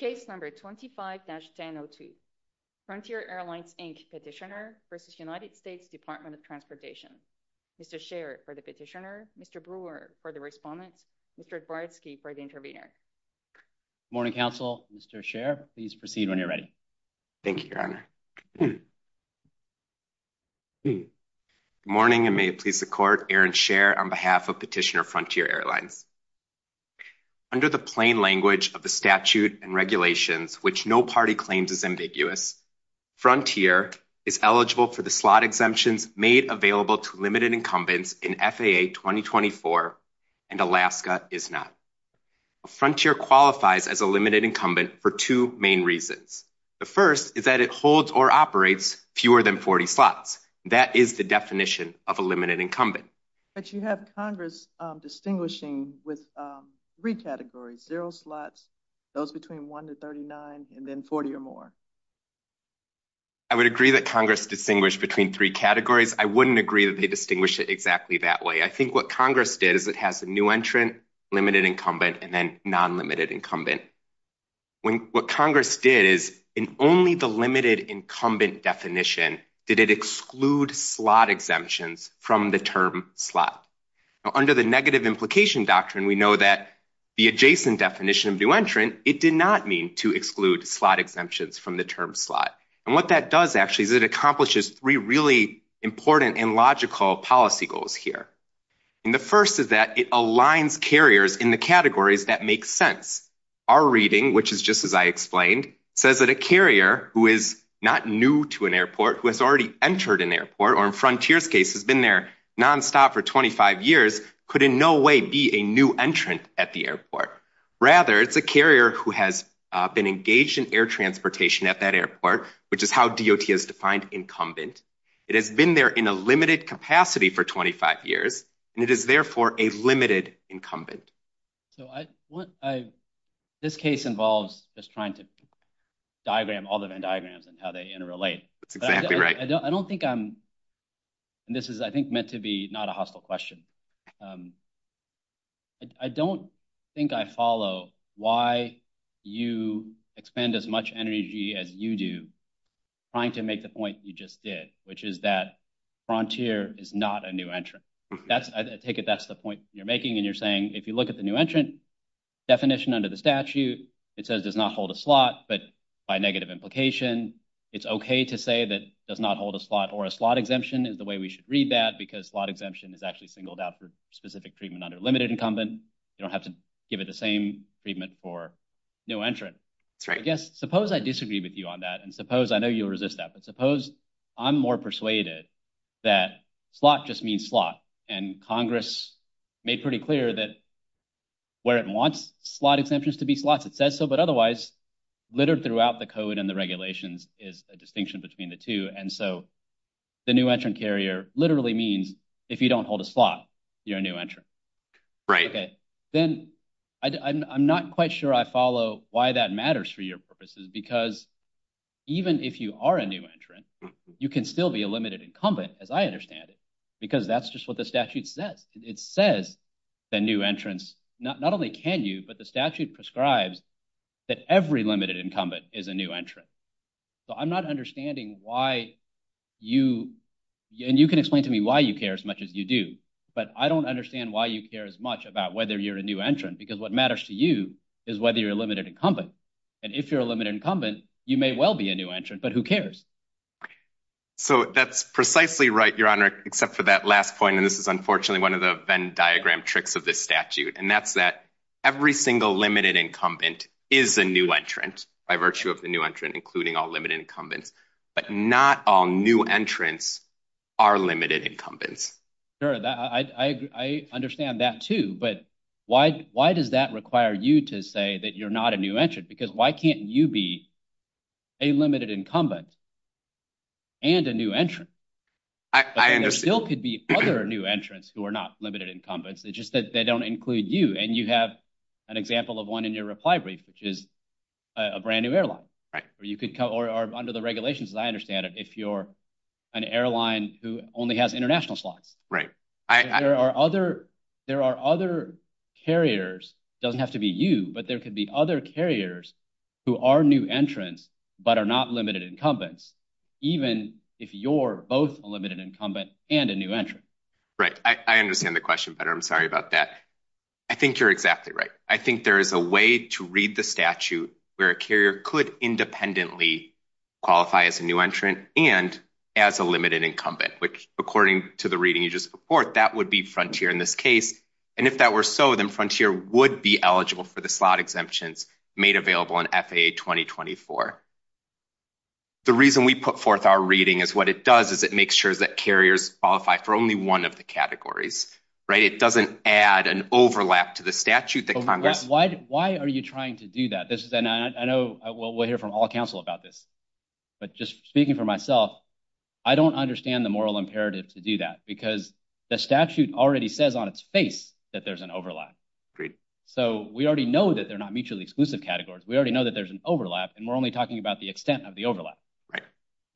v. United States Department of Transportation, Mr. Scherr for the petitioner, Mr. Brewer for the respondent, Mr. Zborski for the intervener. Good morning, counsel. Mr. Scherr, please proceed when you're ready. Thank you, Your Honor. Good morning, and may it please the Court. Aaron Scherr on behalf of Petitioner Frontier Airlines, under the plain language of the statute and regulations which no party claims is ambiguous, Frontier is eligible for the slot exemptions made available to limited incumbents in FAA 2024 and Alaska is not. Frontier qualifies as a limited incumbent for two main reasons. The first is that it holds or operates fewer than 40 slots. That is the definition of a limited incumbent. But you have Congress distinguishing with three categories, zero slots, those between one to 39, and then 40 or more. I would agree that Congress distinguished between three categories. I wouldn't agree that they distinguish it exactly that way. I think what Congress did is it has a new entrant, limited incumbent, and then non-limited incumbent. What Congress did is in only the limited incumbent definition did it exclude slot exemptions from the term slot. Under the negative implication doctrine, we know that the adjacent definition of new entrant, it did not mean to exclude slot exemptions from the term slot. And what that does actually is it accomplishes three really important and logical policy goals here. The first is that it aligns carriers in the categories that make sense. Our reading, which is just as I explained, says that a carrier who is not new to an airport, who has already entered an airport, or in Frontier's case has been there nonstop for 25 years, could in no way be a new entrant at the airport. Rather, it's a carrier who has been engaged in air transportation at that airport, which is how DOT has defined incumbent. It has been there in a limited capacity for 25 years, and it is therefore a limited incumbent. This case involves just trying to diagram Alderman diagrams and how they interrelate. I don't think I'm – this is, I think, meant to be not a hostile question. I don't think I follow why you expend as much energy as you do trying to make the point you just did, which is that Frontier is not a new entrant. I take it that's the point you're making, and you're saying if you look at the new entrant definition under the statute, it says it does not hold a slot, but by negative implication, it's okay to say that it does not hold a slot, or a slot exemption is the way we should read that, because slot exemption is actually singled out for specific treatment under limited incumbent. You don't have to give it the same treatment for new entrants. I guess, suppose I disagree with you on that, and suppose – I know you'll resist that – but suppose I'm more persuaded that slot just means slot, and Congress made pretty clear that where it wants slot exemptions to be slots, it says so, but otherwise, littered throughout the code and the regulations is a distinction between the two, and so the new entrant carrier literally means if you don't hold a slot, you're a new entrant. Right. Then I'm not quite sure I follow why that matters for your purposes, because even if you are a new entrant, you can still be a limited incumbent, as I understand it, because that's just what the statute says. It says that new entrants – not only can you, but the statute prescribes that every limited incumbent is a new entrant, so I'm not understanding why you – and you can explain to me why you care as much as you do, but I don't understand why you care as much about whether you're a new entrant, because what matters to you is whether you're a limited incumbent, and if you're a limited incumbent, you may well be a new entrant, but who cares? That's precisely right, Your Honor, except for that last point, and this is unfortunately one of the Venn diagram tricks of this statute, and that's that every single limited incumbent is a new entrant by virtue of the new entrant, including all limited incumbents, but not all new entrants are limited incumbents. Sure, I understand that too, but why does that require you to say that you're not a new entrant, because why can't you be a limited incumbent and a new entrant? I understand. There still could be other new entrants who are not limited incumbents. It just says they don't include you, and you have an example of one in your reply brief, which is a brand-new airline. Right. Or under the regulations, as I understand it, if you're an airline who only has international slots. Right. There are other carriers, it doesn't have to be you, but there could be other carriers who are new entrants, but are not limited incumbents, even if you're both a limited incumbent and a new entrant. Right. I understand the question better. I'm sorry about that. I think you're exactly right. I think there is a way to read the statute where a carrier could independently qualify as a new entrant and as a limited incumbent, which according to the reading you just reported, that would be Frontier in this case. And if that were so, then Frontier would be eligible for the slot exemptions made available in FAA 2024. The reason we put forth our reading is what it does is it makes sure that carriers qualify for only one of the categories. Right. It doesn't add an overlap to the statute. Why are you trying to do that? I know we'll hear from all counsel about this, but just speaking for myself, I don't understand the moral imperative to do that, because the statute already says on its face that there's an overlap. Agreed. So we already know that they're not mutually exclusive categories. We already know that there's an overlap, and we're only talking about the extent of the overlap. Right.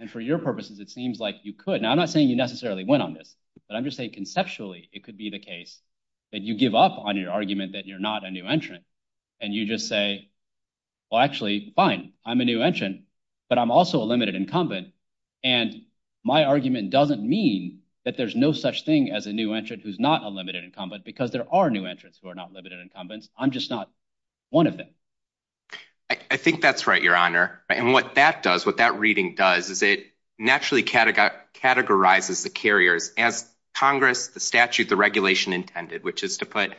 And for your purposes, it seems like you could. Now, I'm not saying you necessarily win on this, but I'm just saying conceptually it could be the case that you give up on your argument that you're not a new entrant, and you just say, well, actually, fine, I'm a new entrant, but I'm also a limited incumbent. And my argument doesn't mean that there's no such thing as a new entrant who's not a limited incumbent, because there are new entrants who are not limited incumbents. I'm just not one of them. I think that's right, Your Honor. And what that does, what that reading does is it naturally categorizes the carriers as Congress, the statute, the regulation intended, which is to put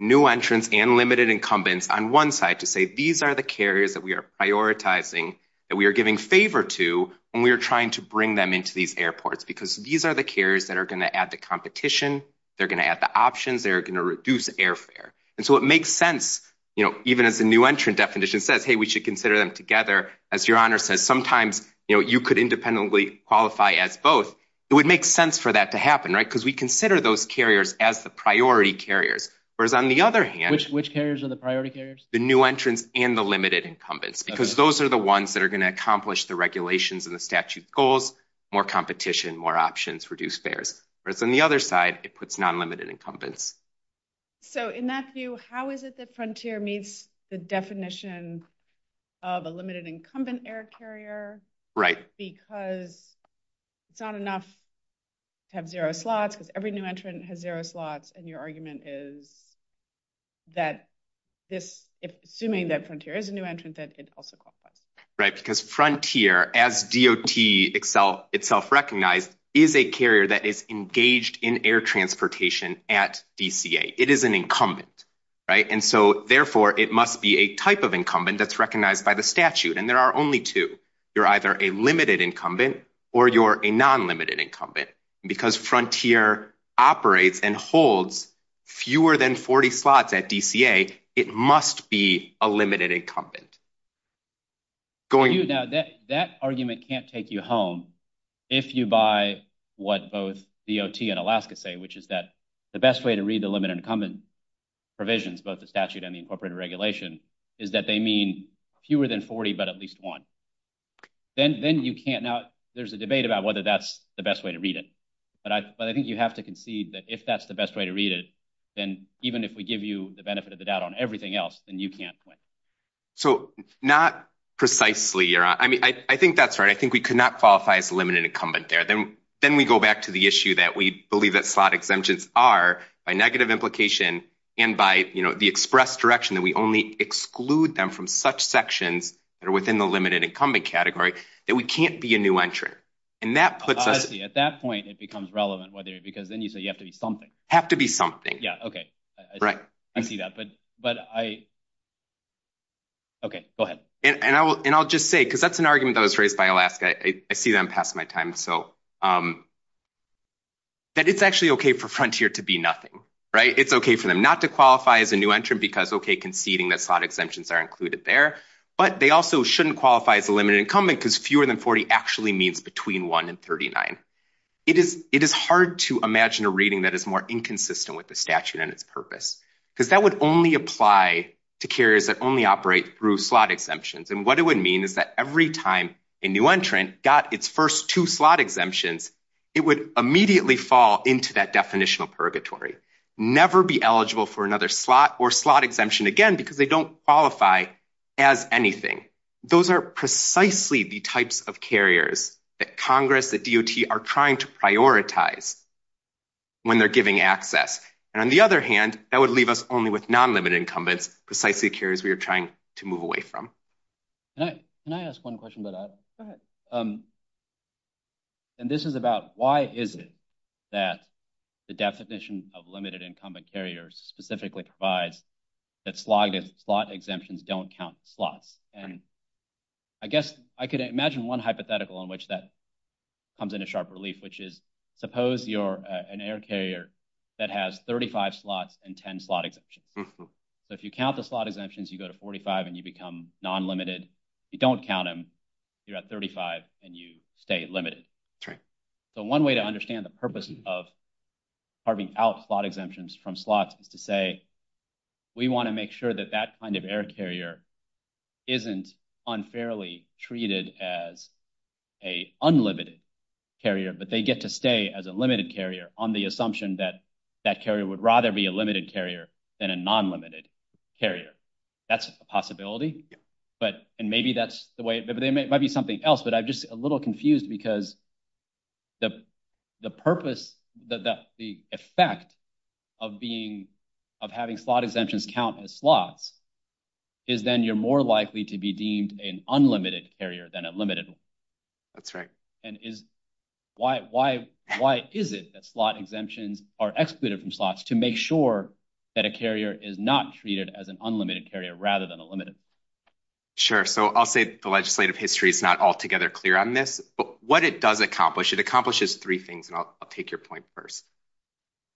new entrants and limited incumbents on one side to say, these are the carriers that we are prioritizing, that we are giving favor to, and we are trying to bring them into these airports, because these are the carriers that are going to add to competition, they're going to add the options, they're going to reduce airfare. And so it makes sense, you know, even if the new entrant definition says, hey, we should consider them together, as Your Honor said, sometimes, you know, you could independently qualify as both. It would make sense for that to happen, right? Because we consider those carriers as the priority carriers. Whereas on the other hand... Which carriers are the priority carriers? The new entrants and the limited incumbents, because those are the ones that are going to accomplish the regulations and the statute goals, more competition, more options, reduce fares. Whereas on the other side, it puts non-limited incumbents. So in that view, how is it that Frontier meets the definition of a limited incumbent air carrier? Right. Because it's not enough to have zero slots, because every new entrant has zero slots, and your argument is that this... Assuming that Frontier is a new entrant, then it's also qualified. Right. Because Frontier, as DOT itself recognized, is a carrier that is engaged in air transportation at DCA. It is an incumbent, right? And so, therefore, it must be a type of incumbent that's recognized by the statute. And there are only two. You're either a limited incumbent, or you're a non-limited incumbent. And because Frontier operates and holds fewer than 40 slots at DCA, it must be a limited incumbent. Now, that argument can't take you home if you buy what both DOT and Alaska say, which is that the best way to read the limited incumbent provisions, both the statute and the incorporated regulation, is that they mean fewer than 40, but at least one. Then you can't... Now, there's a debate about whether that's the best way to read it, but I think you have to concede that if that's the best way to read it, then even if we give you the benefit of the doubt on everything else, then you can't quit. So, not precisely. I mean, I think that's right. I think we could not qualify as a limited incumbent there. Then we go back to the issue that we believe that slot exemptions are, by negative implication and by, you know, the express direction that we only exclude them from such sections that are within the limited incumbent category, that we can't be a new entrant. And that puts us... I see. At that point, it becomes relevant whether... Because then you say you have to be something. Have to be something. Yeah. Okay. Right. I see that. But I... Okay. Go ahead. And I'll just say, because that's an argument that was raised by Alaska. I see that I'm passing my time. So, that it's actually okay for Frontier to be nothing, right? It's okay for them not to qualify as a new entrant because, okay, conceding that slot exemptions are included there, but they also shouldn't qualify as a limited incumbent because fewer than 40 actually means between one and 39. It is hard to imagine a reading that is more inconsistent with the statute and its purpose because that would only apply to carriers that only operate through slot exemptions. And what it would mean is that every time a new entrant got its first two slot exemptions, it would immediately fall into that definitional purgatory. Never be eligible for another slot or slot exemption again because they don't qualify as anything. Those are precisely the types of carriers that Congress, that DOT are trying to prioritize when they're giving access. And on the other hand, that would leave us only with non-limited incumbents, precisely carriers we are trying to move away from. Can I ask one question about that? Go ahead. And this is about why is it that the definition of limited incumbent carriers specifically provides that slot exemptions don't count slots. And I guess I could imagine one hypothetical on which that comes into sharp relief, which is suppose you're an air carrier that has 35 slots and 10 slot exemptions. So if you count the slot exemptions, you go to 45 and you become non-limited. If you don't count them, you're at 35 and you stay limited. So one way to understand the purpose of carving out slot exemptions from slots is to say we want to make sure that that kind of air carrier isn't unfairly treated as a unlimited carrier, but they get to stay as a limited carrier on the assumption that that carrier would rather be a limited carrier than a non-limited carrier. That's a possibility. And maybe that's the way, but it might be something else. But I'm just a little confused because the purpose, the effect of having slot exemptions count as slots is then you're more likely to be deemed an unlimited carrier than a limited one. That's right. And why is it that slot exemptions are excluded from slots to make sure that a carrier is not treated as an unlimited carrier rather than a limited one? Sure. So I'll say the legislative history is not altogether clear on this, but what it does accomplish, it accomplishes three things and I'll take your point first.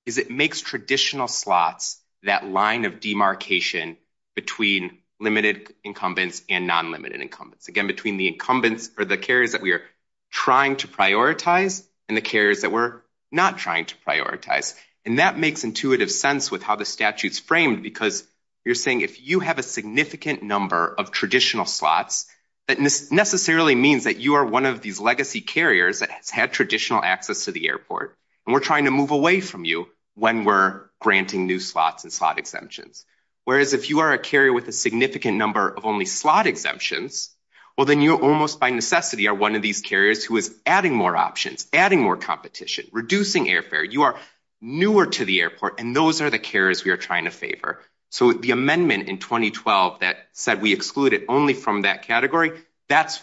It makes traditional slots that line of demarcation between limited incumbents and non-limited incumbents. Again, between the incumbents or the carriers that we are trying to prioritize and the carriers that we're not trying to prioritize. And that makes intuitive sense with how the statute's framed because you're saying if you have a significant number of traditional slots, that necessarily means that you are one of these legacy carriers that had traditional access to the airport and we're trying to move away from you when we're granting new slots and slot exemptions. Whereas if you are a carrier with a significant number of only slot exemptions, well then you almost by necessity are one of these carriers who is adding more options, adding more competition, reducing airfare. You are newer to the airport and those are the carriers we are trying to favor. So the amendment in 2012 that said we excluded only from that category, that's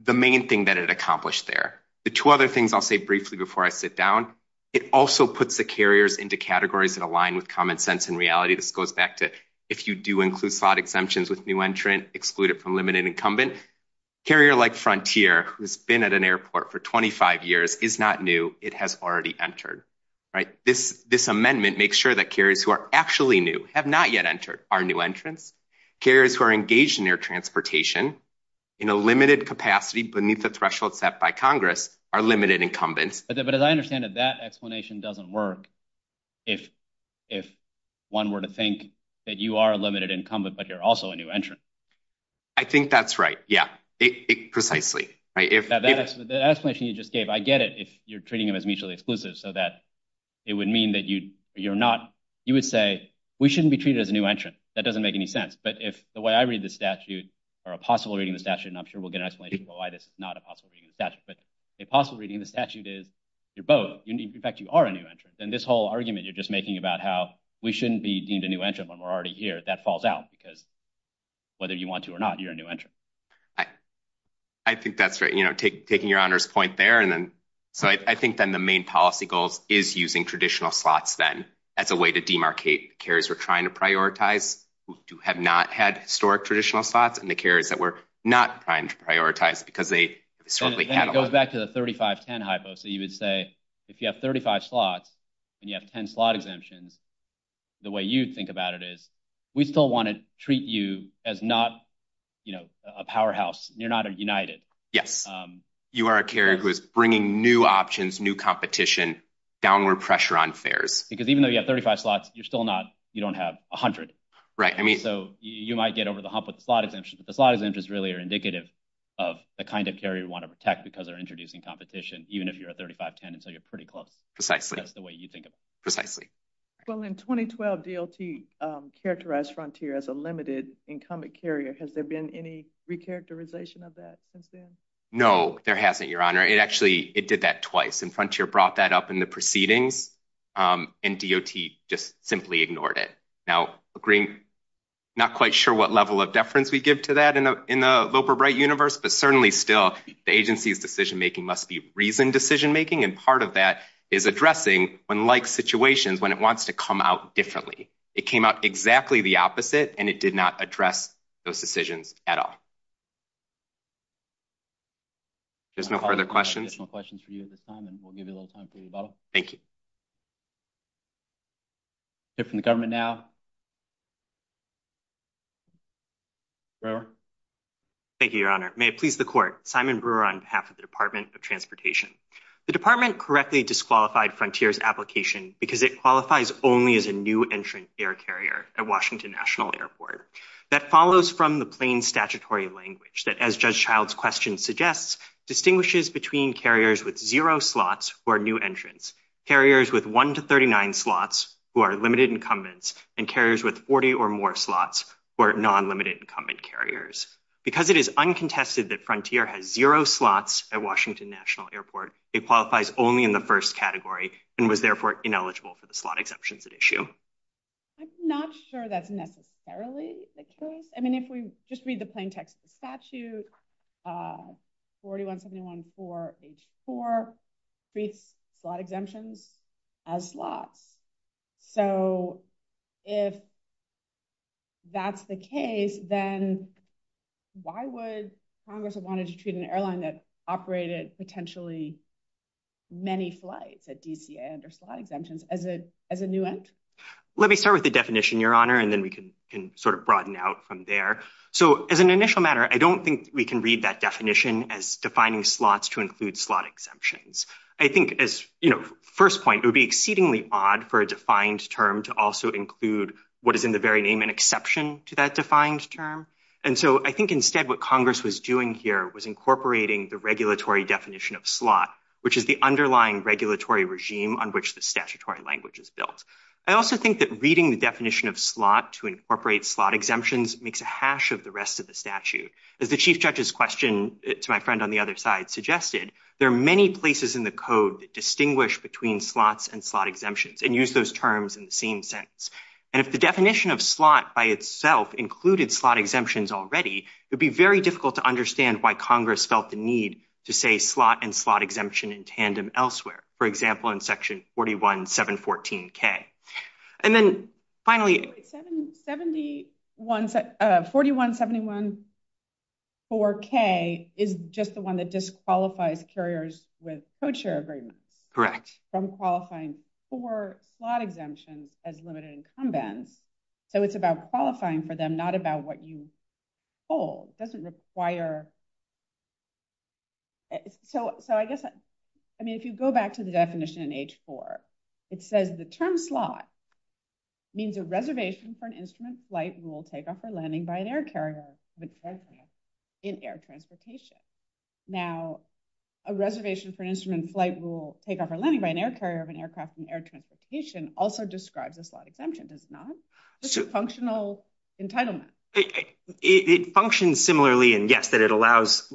the main thing that it accomplished there. The two other things I'll say briefly before I sit down, it also puts the carriers into categories that align with common sense and reality. This goes back to if you do include slot exemptions with new entrants, exclude it from limited incumbents. Carrier like Frontier who's been at an airport for 25 years is not new, it has already entered. This amendment makes sure that carriers who are actually new have not yet entered are new entrants. Carriers who are engaged in air transportation in a limited capacity beneath the threshold set by Congress are limited incumbents. But as I understand it, that explanation doesn't work if one were to think that you are a limited incumbent but you're also a new entrant. I think that's right. Yeah. Precisely. The explanation you just gave, I get it if you're treating them as mutually exclusive so that it would mean that you're not, you would say we shouldn't be treated as a new entrant. That doesn't make any sense. But if the way I read the statute or a possible reading of the statute, and I'm sure we'll get an explanation of why this is not a possible reading of the statute, but a possible reading of the statute is you're both, in fact you are a new entrant. And this whole argument you're just making about how we shouldn't be deemed a new entrant when we're already here, that falls out because whether you want to or not, you're a new entrant. I think that's right. Taking your honor's point there. So I think then the main policy goal is using traditional slots then as a way to demarcate carriers we're trying to prioritize who have not had historic traditional slots and the carriers that we're not trying to prioritize because they certainly have them. Going back to the 35-10 hypo, so you would say if you have 35 slots and you have 10 slot exemptions, the way you think about it is we still want to treat you as not, you know, a powerhouse. You're not a united. You are a carrier who is bringing new options, new competition, downward pressure on fares. Because even though you have 35 slots, you're still not, you don't have 100. Right. So you might get over the hump with slot exemptions, but slot exemptions really are indicative of the kind of carrier we want to protect because they're introducing competition even if you're a 35-10 and so you're pretty close. Precisely. That's the way you think about it. Precisely. Well, in 2012, DOT characterized Frontier as a limited incumbent carrier. Has there been any re-characterization of that since then? No, there hasn't, Your Honor. It actually, it did that twice and Frontier brought that up in the proceedings and DOT just simply ignored it. Now, I'm not quite sure what level of deference we give to that in the Loper Bright universe, but certainly still the agency's decision-making must be reasoned decision-making and part of that is when it wants to come out differently. It came out exactly the opposite and it did not address those decisions at all. There's no further questions? No questions for you at this time and we'll give you a little time to think about it. Thank you. We'll hear from the government now. Thank you, Your Honor. May it please the Court, Simon Brewer on behalf of the Department of Transportation. The Department correctly disqualified Frontier's application because it qualifies only as a new entrant air carrier at Washington National Airport. That follows from the plain statutory language that, as Judge Child's question suggests, distinguishes between carriers with zero slots who are new entrants, carriers with one to 39 slots who are limited incumbents, and carriers with 40 or more slots who are non-limited incumbent carriers. Because it is uncontested that Frontier has zero slots at Washington National Airport, it qualifies only in the first category and was, therefore, ineligible for the slot exemptions at issue. I'm not sure that's necessarily the case. I mean, if we just read the plain text of the statute, 4171-4-H4 treats slot exemptions as slots. So, if that's the case, then why would Congress have wanted to treat an airline that operated potentially many flights at DCA under slot exemptions as a new entrant? Let me start with the definition, Your Honor, and then we can sort of broaden out from there. So, as an initial matter, I don't think we can read that definition as defining slots to include slot exemptions. I think, as, you know, first point, it would be exceedingly odd for a defined term to also include what is in the very name an exception to that defined term. And so, I think, instead, what Congress was doing here was incorporating the regulatory definition of slot, which is the underlying regulatory regime on which the statutory language is built. I also think that reading the definition of slot to incorporate slot exemptions makes a hash of the rest of the statute. As the Chief Judge's question to my friend on the other side suggested, there are many places in the code that distinguish between slots and slot exemptions and use those terms in the same sentence. And if the definition of slot by itself included slot exemptions already, it would be very difficult to understand why Congress felt the need to say slot and slot exemption in tandem elsewhere, for example, in section 41714K. And then, finally. 41714K is just the one that disqualifies carriers with co-chair agreements. Correct. From qualifying for slot exemptions as limited incumbents. So, it's about qualifying for them, not about what you hold. It doesn't require. So, I guess, I mean, if you go back to the definition in H-4, it says the term slot means a reservation for an instrument flight rule takeoff or landing by an air carrier of an aircraft in air transportation. Now, a reservation for an instrument flight rule takeoff or landing by an air carrier of an aircraft in air transportation also describes a slot exemption, does it not? It's a functional entitlement. It functions similarly in, yes, that it allows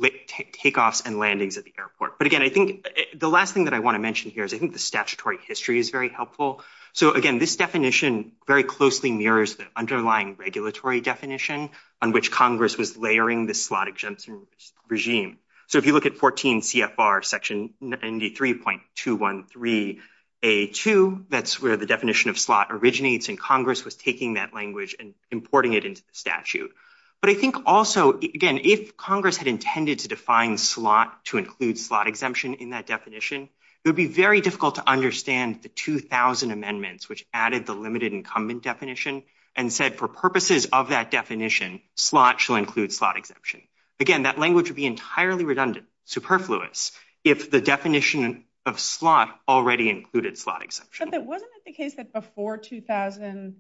takeoffs and landings at the airport. But, again, I think the last thing that I want to mention here is I think the statutory history is very helpful. So, again, this definition very closely mirrors the underlying regulatory definition on which Congress was layering the slot exemption regime. So, if you look at 14 CFR section ND3.213A2, that's where the definition of slot originates, and Congress was taking that language and importing it into the statute. But I think also, again, if Congress had intended to define slot to include slot exemption in that definition, it would be very difficult to understand the 2000 amendments which added the limited incumbent definition and said for purposes of that definition, slot shall include slot exemption. Again, that language would be entirely redundant, superfluous, if the definition of slot already included slot exemption. But wasn't it the case that before 2000,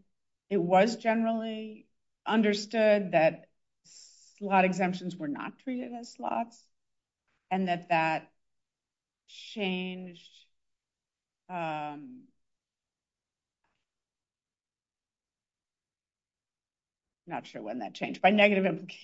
it was generally understood that slot exemptions were not treated as slots and that that changed... I'm not sure when that changed.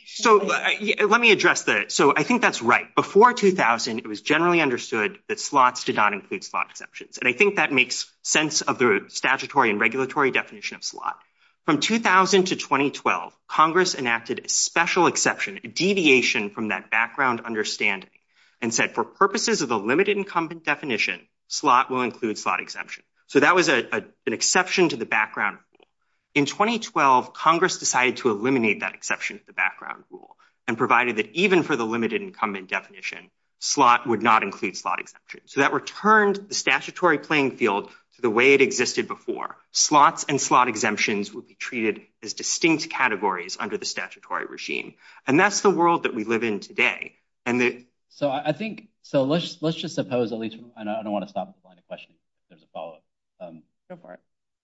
So, let me address that. So, I think that's right. Before 2000, it was generally understood that slots did not include slot exceptions, and I think that makes sense of the statutory and regulatory definition of slot. From 2000 to 2012, Congress enacted a special exception, a deviation from that background understanding, and said for purposes of the limited incumbent definition, slot will include slot exemption. So, that was an exception to the background rule. In 2012, Congress decided to eliminate that exception of the background rule and provided that even for the limited incumbent definition, slot would not include slot exemptions. So, that returned the statutory playing field to the way it existed before. Slots and slot exemptions would be treated as distinct categories under the statutory regime. And that's the world that we live in today. So, I think... So, let's just suppose, at least... I don't want to stop before I get a question. There's a follow-up. Go for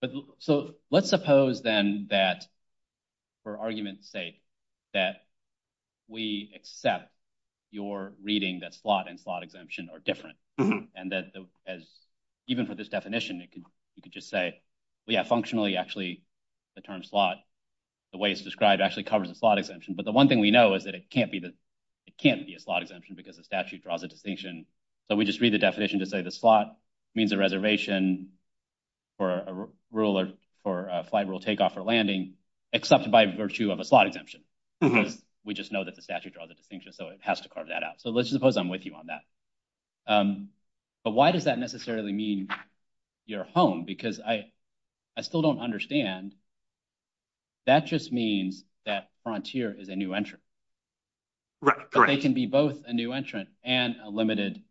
it. So, let's suppose, then, that for argument's sake, that we accept your reading that slot and slot exemption are different and that even for this definition, you could just say, yeah, functionally, actually, the term slot, the way it's described, actually covers the slot exemption. But the one thing we know is that it can't be a slot exemption because the statute draws a distinction. So, we just read the definition to say the slot means a reservation for a flight rule takeoff or landing, except by virtue of a slot exemption. We just know that the statute draws a distinction, so it has to carve that out. So, let's suppose I'm with you on that. But why does that necessarily mean you're home? Because I still don't understand. That just means that frontier is a new entrant. Right, correct. But they can be both a new entrant and a limited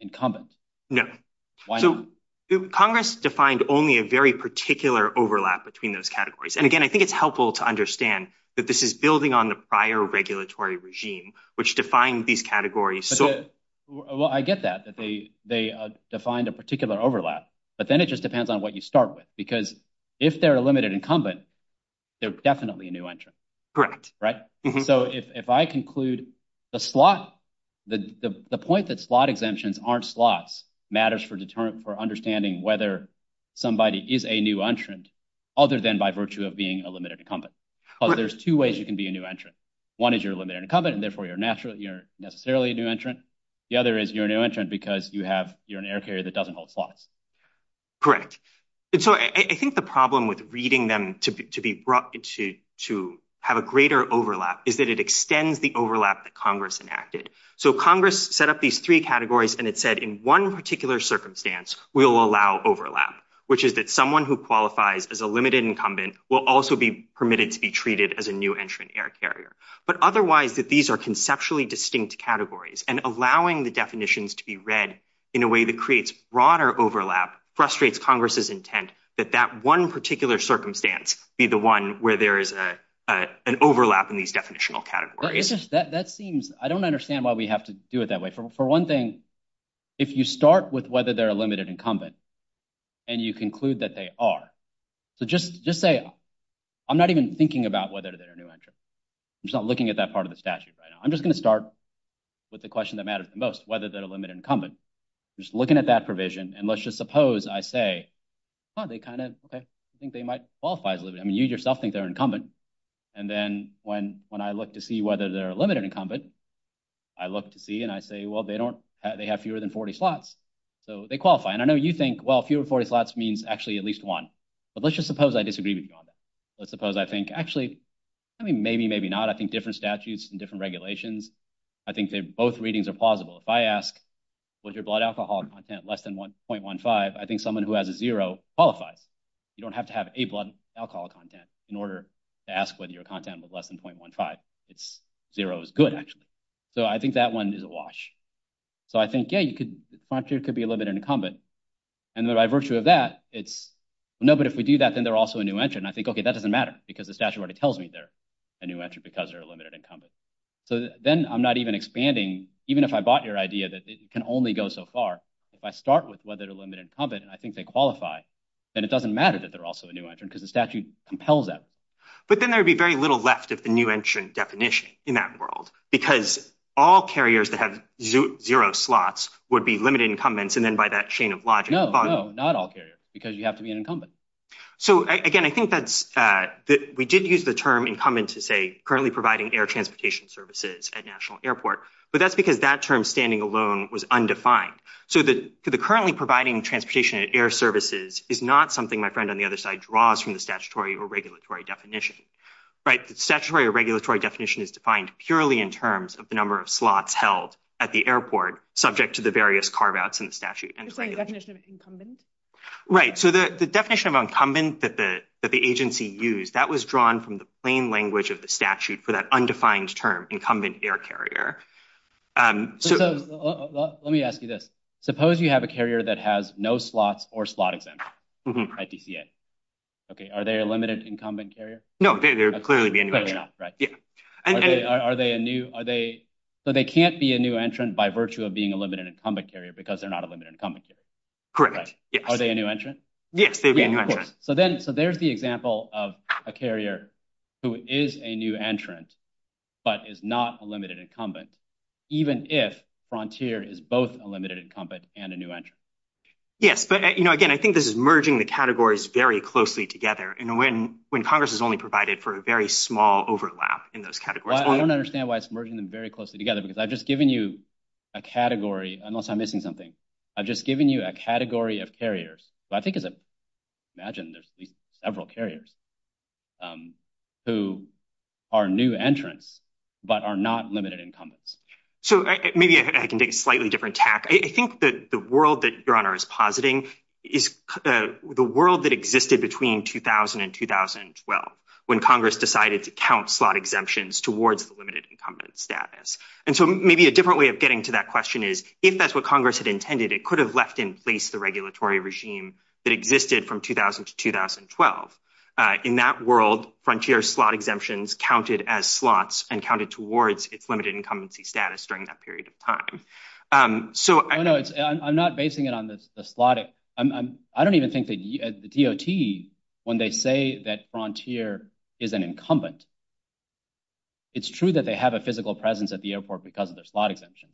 incumbent. No. Why not? Congress defined only a very particular overlap between those categories. And, again, I think it's helpful to understand that this is building on the prior regulatory regime, which defined these categories. Well, I get that, that they defined a particular overlap. But then it just depends on what you start with. Because if they're a limited incumbent, they're definitely a new entrant. Correct. Right? So, if I conclude the slot, the point that slot exemptions aren't slots matters for understanding whether somebody is a new entrant, other than by virtue of being a limited incumbent. Because there's two ways you can be a new entrant. One is you're a limited incumbent, and therefore you're necessarily a new entrant. The other is you're a new entrant because you have an air carrier that doesn't hold slots. Correct. And so I think the problem with reading them to have a greater overlap is that it extends the overlap that Congress enacted. So Congress set up these three categories and it said in one particular circumstance, we will allow overlap, which is that someone who qualifies as a limited incumbent will also be permitted to be treated as a new entrant air carrier. But otherwise, that these are conceptually distinct categories and allowing the definitions to be read in a way that creates broader overlap frustrates Congress's intent that that one particular circumstance be the one where there is an overlap in these definitional categories. That seems, I don't understand why we have to do it that way. For one thing, if you start with whether they're a limited incumbent and you conclude that they are, so just say, I'm not even thinking about whether they're a new entrant. I'm just not looking at that part of the statute right now. I'm just going to start with the question that matters the most, whether they're a limited incumbent. Just looking at that provision and let's just suppose I say, oh, they kind of think they might qualify as a limited incumbent. I mean, you yourself think they're incumbent. And then when I look to see whether they're a limited incumbent, I look to see and I say, well, they have fewer than 40 slots, so they qualify. And I know you think, well, fewer than 40 slots means actually at least one. But let's just suppose I disagree with you on that. Let's suppose I think actually, I mean, maybe, maybe not. I think different statutes and different regulations, I think that both readings are plausible. If I ask, was your blood alcohol content less than 0.15, I think someone who has a zero qualifies. You don't have to have a blood alcohol content in order to ask whether your content was less than 0.15. Zero is good, actually. So I think that one is a wash. So I think, yeah, you could be a limited incumbent. And by virtue of that, it's, no, but if we do that, then they're also a new entrant. I think, okay, that doesn't matter because the statute already tells me they're a new entrant because they're a limited incumbent. So then I'm not even expanding, even if I bought your idea that it can only go so far. If I start with whether they're a limited incumbent, and I think they qualify, then it doesn't matter that they're also a new entrant because the statute compels that. But then there would be very little left of the new entrant definition in that world because all carriers that have zero slots would be limited incumbents, and then by that chain of logic... No, no, not all carriers because you have to be an incumbent. So, again, I think that's... We did use the term incumbent to say currently providing air transportation services at National Airport, but that's because that term standing alone was undefined. So the currently providing transportation at air services is not something my friend on the other side draws from the statutory or regulatory definition. Statutory or regulatory definition is defined purely in terms of the number of slots held at the airport subject to the various carve-outs in the statute. Is there a definition of incumbent? Right. So the definition of incumbent that the agency used, that was drawn from the plain language of the statute for that undefined term, incumbent air carrier. Let me ask you this. Suppose you have a carrier that has no slots or slot exemptions at DCA. Are they a limited incumbent carrier? No. Are they a new... So they can't be a new entrant by virtue of being a limited incumbent carrier because they're not a limited incumbent carrier. Correct. Are they a new entrant? Yes. So there's the example of a carrier who is a new entrant but is not a limited incumbent even if Frontier is both a limited incumbent and a new entrant. Yes. But again, I think this is merging the categories very closely together when Congress has only provided for a very small overlap in those categories. I don't understand why it's merging them very closely together because I've just given you a category unless I'm missing something. I've just given you a category of carriers I think it's... several carriers who are new entrants but are not limited incumbents. Maybe I can take a slightly different tack. I think that the world that your Honor is positing is the world that existed between 2000 and 2012 when Congress decided to count slot exemptions towards the limited incumbent status. And so maybe a different way of getting to that question is if that's what Congress had intended it could have left in place the regulatory regime that existed from 2000 to 2012. In that world, Frontier slot exemptions counted as slots and counted towards its limited incumbency status during that period of time. I'm not basing it on the slot. I don't even think the DOT when they say that Frontier is an incumbent, it's true that they have a physical presence at the airport because of their slot exemption.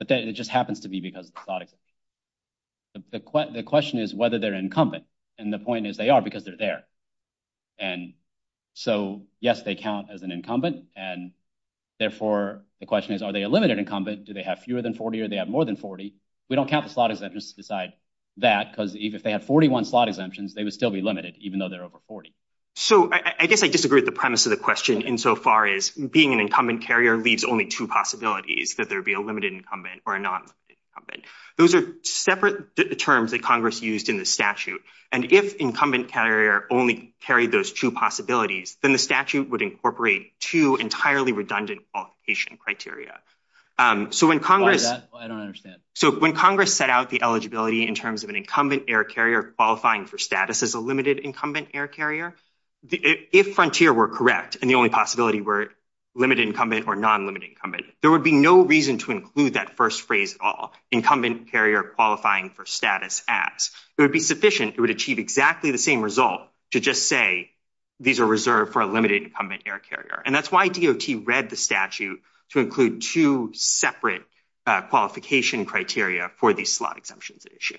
It just happens to be because of the slot exemption. The question is whether they're incumbent and the point is they are because they're there. So yes, they count as an incumbent and therefore the question is are they a limited incumbent? Do they have fewer than 40 or do they have more than 40? We don't count the slot exemptions to decide that because even if they have 41 slot exemptions they would still be limited even though they're over 40. I guess I disagree with the premise of the question insofar as being an incumbent carrier leaves only two possibilities, whether it be a limited incumbent or a non-incumbent. Those are separate terms that Congress used in the statute and if incumbent carrier only carried those two possibilities, then the statute would incorporate two entirely redundant qualification criteria. Why is that? I don't understand. When Congress set out the eligibility in terms of an incumbent air carrier qualifying for status as a limited incumbent air carrier, if Frontier were correct and the only possibility were limited incumbent or non-limited incumbent there would be no reason to include that first phrase at all. Incumbent carrier qualifying for status acts. It would be sufficient. It would achieve exactly the same result to just say these are reserved for a limited incumbent air carrier and that's why DOT read the statute to include two separate qualification criteria for the slot exemptions issue.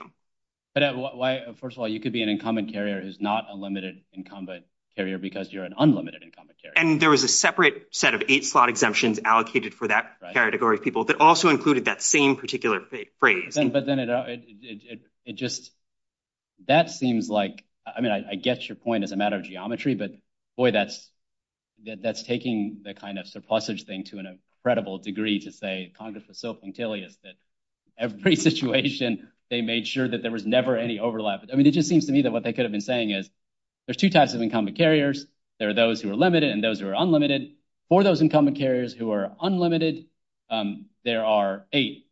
First of all, you could be an incumbent carrier who's not a limited incumbent carrier because you're an unlimited incumbent carrier. And there was a separate set of eight slot exemptions allocated for that category of people that also included that same particular phrase. It just that seems like, I mean I get your point as a matter of geometry, but boy that's taking the kind of surplusage thing to an incredible degree to say Congress was so punctilious that every situation they made sure that there was never any overlap. I mean it just seems to me that what they could have been saying is there's two types of incumbent carriers. There are those who are limited and those who are unlimited. For those incumbent carriers who are unlimited there are eight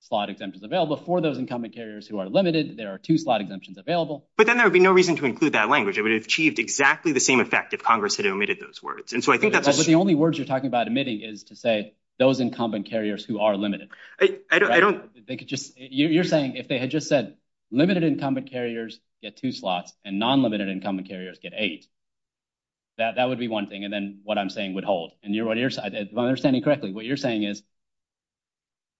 slot exemptions available. For those incumbent carriers who are limited there are two slot exemptions available. But then there would be no reason to include that language. It would have achieved exactly the same effect if Congress had omitted those words. But the only words you're talking about omitting is to say those incumbent carriers who are limited. You're saying if they had just said limited incumbent carriers get two slots and non-limited incumbent carriers get eight. That would be one thing. And then what I'm saying would hold. If I'm understanding correctly what you're saying is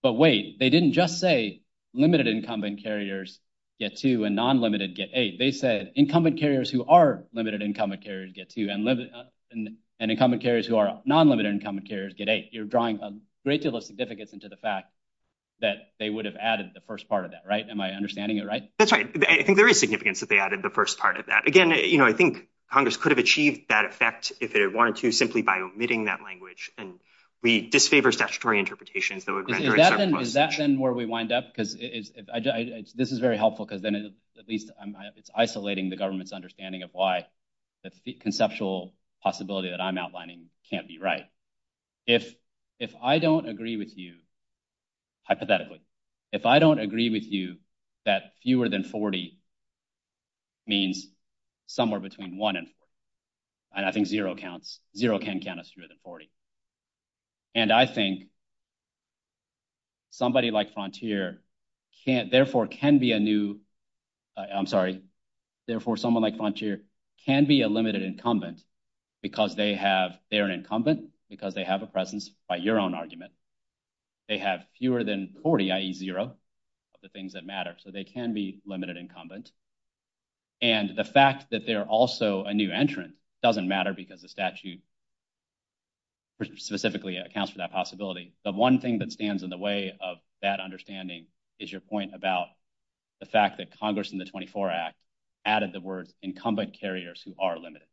but wait, they didn't just say limited incumbent carriers get two and non-limited get eight. They said incumbent carriers who are limited incumbent carriers get two and incumbent carriers who are non-limited incumbent carriers get eight. You're drawing ridiculous significance into the fact that they would have added the first part of that, right? Am I understanding it right? That's right. I think there is significance that they added the first part of that. Again, I think Congress could have achieved that effect if they wanted to simply by omitting that language. And we disfavor statutory interpretation. Is that then where we wind up? Because this is very helpful because then at least it's isolating the government's understanding of why the conceptual possibility that I'm outlining can't be right. If I don't agree with you, hypothetically, if I don't agree with you that fewer than 40 means somewhere between one and four, I think zero counts. Zero can count as fewer than 40. And I think somebody like Frontier therefore can be a new I'm sorry, therefore someone like Frontier can be a limited incumbent because they are an incumbent because they have a presence by your own argument. They have fewer than 40, i.e. zero, of the things that matter. So they can be limited incumbents. And the fact that they are also a new entrant doesn't matter because the statute specifically accounts for that possibility. The one thing that stands in the way of that understanding is your point about the fact that Congress in the 24 Act added the word incumbent carriers who are limited.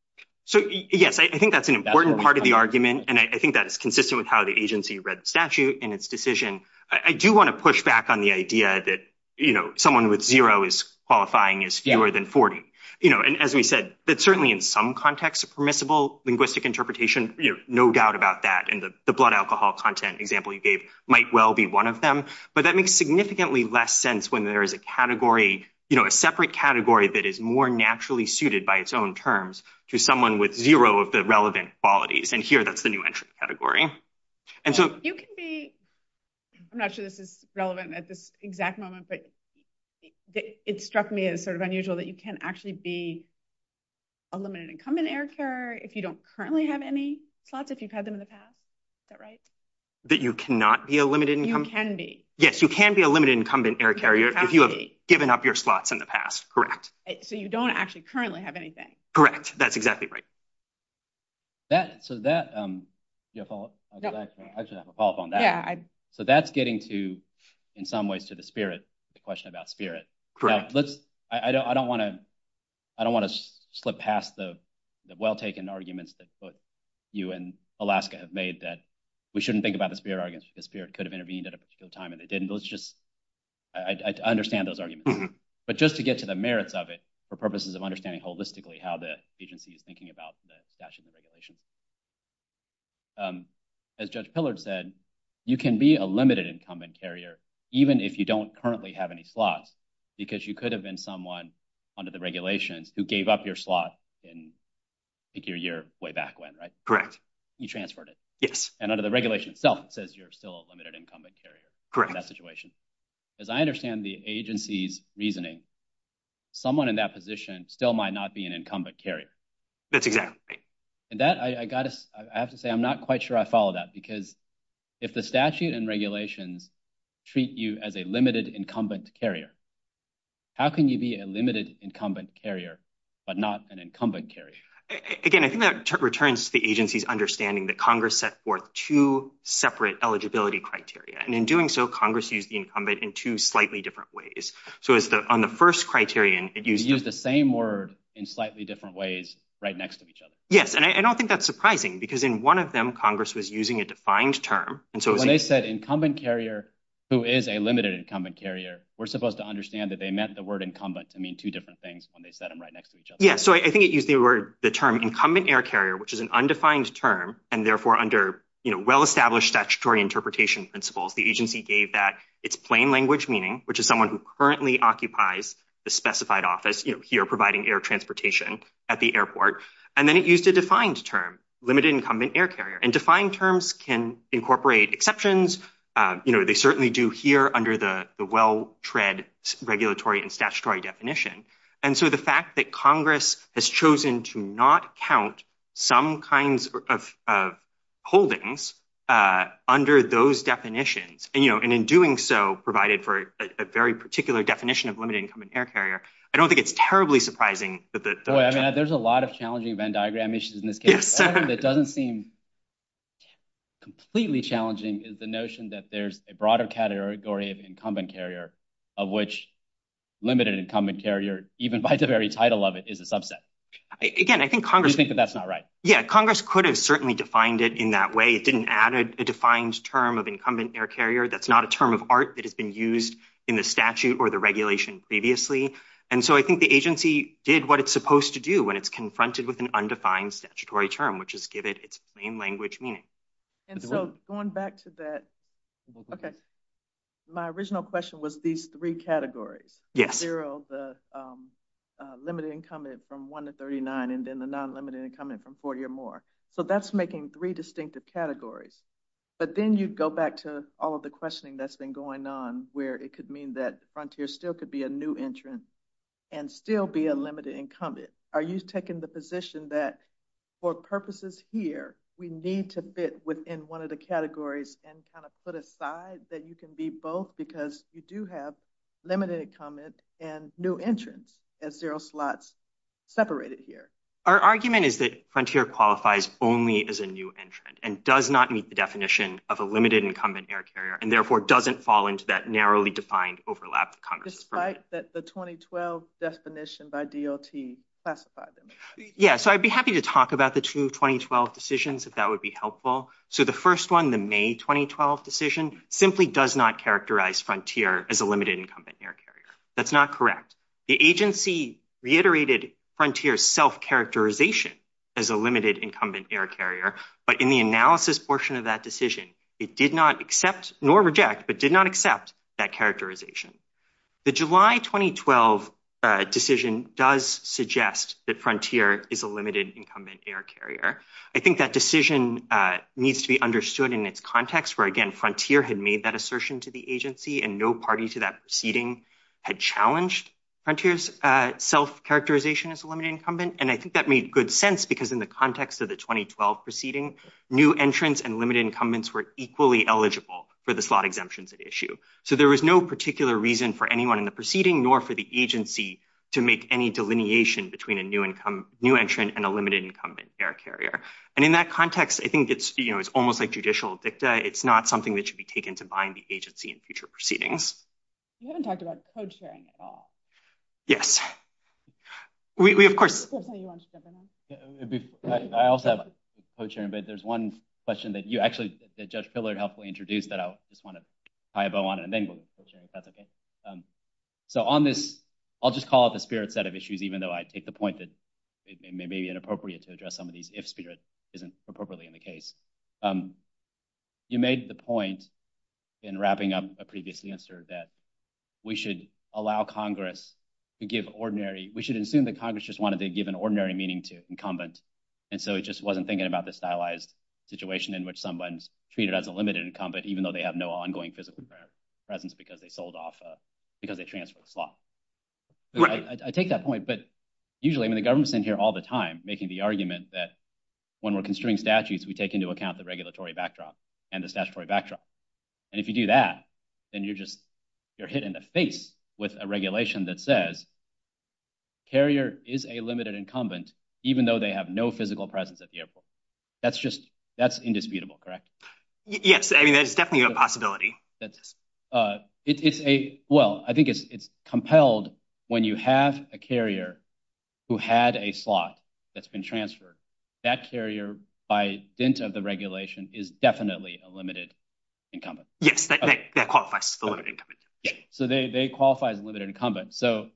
So yes, I think that's an important part of the argument, and I think that is consistent with how the agency read the statute and its decision. I do want to push back on the idea that someone with zero is qualifying as fewer than 40. And as we said, that certainly in some contexts permissible linguistic interpretation, no doubt about that, and the blood alcohol content example you gave might well be one of them. But that makes significantly less sense when there is a category, a separate category that is more naturally suited by its own terms to someone with zero of the relevant qualities. And here, that's the new entrant category. You can be... I'm not sure this is relevant at this exact moment, but it struck me as sort of unusual that you can actually be a limited incumbent air carrier if you don't currently have any plots, if you've had them in the past. Is that right? That you cannot be a limited incumbent? You can be. Yes, you can be a limited incumbent air carrier if you have given up your plots in the past. Correct. So you don't actually currently have anything. Correct. That's exactly right. So that... I should have a follow-up on that. So that's getting to, in some ways, to the spirit, the question about spirit. Correct. I don't want to slip past the well-taken arguments that both you and Alaska have made that we shouldn't think about the spirit argument. The spirit could have intervened at a particular time, and it didn't. Let's just... I understand those arguments. But just to get to the merits of it, for purposes of understanding holistically how the agency is thinking about the statute and regulations. As Judge Pillard said, you can be a limited incumbent carrier even if you don't currently have any plots because you could have been someone under the regulations who gave up your plots in, I think, your year way back when, right? Correct. You transferred it. Yes. And under the regulation itself, it says you're still a limited incumbent carrier in that situation. Correct. As I understand the agency's reasoning, someone in that position still might not be an incumbent carrier. That's exactly right. I have to say I'm not quite sure I follow that because if the statute and regulations treat you as a limited incumbent carrier, how can you be a limited incumbent carrier but not an incumbent carrier? Again, I think that returns to the agency's understanding that Congress set forth two separate eligibility criteria. In doing so, Congress used the incumbent in two slightly different ways. On the first criterion... You used the same word in slightly different ways right next to each other. Yes. I don't think that's surprising because in one of them, Congress was using a defined term. When they said incumbent carrier who is a limited incumbent carrier, we're supposed to understand that they meant the word incumbent to mean two different things when they said them right next to each other. Yes. I think it used the term incumbent air carrier, which is an undefined term and therefore under well-established statutory interpretation principles, the agency gave that it's plain language meaning, which is someone who currently occupies the specified office here providing air transportation at the airport. Then it used a defined term, limited incumbent air carrier. Defined terms can incorporate exceptions. They certainly do here under the well tread regulatory and statutory definition. The fact that Congress has chosen to not count some kinds of holdings under those definitions and in doing so, provided for a very particular definition of limited incumbent air carrier, I don't think it's terribly surprising that... There's a lot of challenging Venn diagram issues in this case. The other thing that doesn't seem completely challenging is the notion that there's a broader category of incumbent carrier of which limited incumbent air carrier, even by the very title of it, is a subset. Again, I think Congress... Do you think that that's not right? Yeah, Congress could have certainly defined it in that way. It didn't add a defined term of incumbent air carrier. That's not a term of art that has been used in the statute or the regulation previously. I think the agency did what it's supposed to do when it's confronted with an undefined statutory term, which is give it its plain language meaning. Going back to that... Okay. My original question was these three categories. Zero, the limited incumbent from one to 39, and then the non-limited incumbent from 40 or more. That's making three distinctive categories. Then you go back to all of the questioning that's been going on where it could mean that Frontier still could be a new entrant and still be a limited incumbent. Are you taking the position that for purposes here, we need to fit within one of the categories and put aside that you can be both because you do have limited incumbent and new entrant as zero slots separated here? Our argument is that Frontier qualifies only as a new entrant and does not meet the definition of a limited incumbent air carrier and therefore doesn't fall into that narrowly defined overlap that Congress has provided. Despite that the 2012 definition by DLT classified them. I'd be happy to talk about the two 2012 decisions if that would be helpful. The first one, the May 2012 decision, simply does not characterize Frontier as a limited incumbent air carrier. That's not correct. The agency reiterated Frontier's self-characterization as a limited incumbent air carrier, but in the analysis portion of that decision, it did not accept nor reject, but did not accept that characterization. The July 2012 decision does suggest that Frontier is a limited incumbent air carrier. I think that decision needs to be understood in its context, where again, Frontier had made that assertion to the agency and no party to that proceeding had challenged Frontier's self-characterization as a limited incumbent. I think that made good sense because in the context of the 2012 proceeding, new entrants and limited incumbents were equally eligible for the slot exemptions at issue. There was no particular reason for anyone in the proceeding nor for the agency to make any delineation between a new entrant and a limited incumbent air carrier. In that context, I think it's almost like judicial dicta. It's not something that should be taken to bind the agency in future proceedings. You haven't talked about co-chairing at all. Yes. We, of course... I also have co-chairing, but there's one question that you actually, that Judge Pillard helpfully introduced that I just want to tie a bow on and then go to the co-chair. On this, I'll just call it the spirit set of issues, even though I take the point that it may be inappropriate to address some of these if spirit isn't appropriately in the case. You made the point in wrapping up a previous answer that we should allow Congress to give ordinary...we should assume that Congress just wanted to give an ordinary meaning to incumbents, and so it just wasn't thinking about the stylized situation in which someone's treated as a limited incumbent even though they have no ongoing physical presence because they sold off...because they transferred slots. I take that point, but usually the government's in here all the time making the argument that when we're construing statutes, we take into account the regulatory backdrop and the statutory backdrop. And if you do that, then you're just...you're hit in the face with a regulation that says carrier is a limited incumbent even though they have no physical presence at the airport. That's indisputable, correct? Yes, there's definitely a possibility. It's a... It's held when you have a carrier who had a slot that's been transferred. That carrier, by dint of the regulation, is definitely a limited incumbent. Yes, that qualifies as a limited incumbent. So they qualify as a limited incumbent. So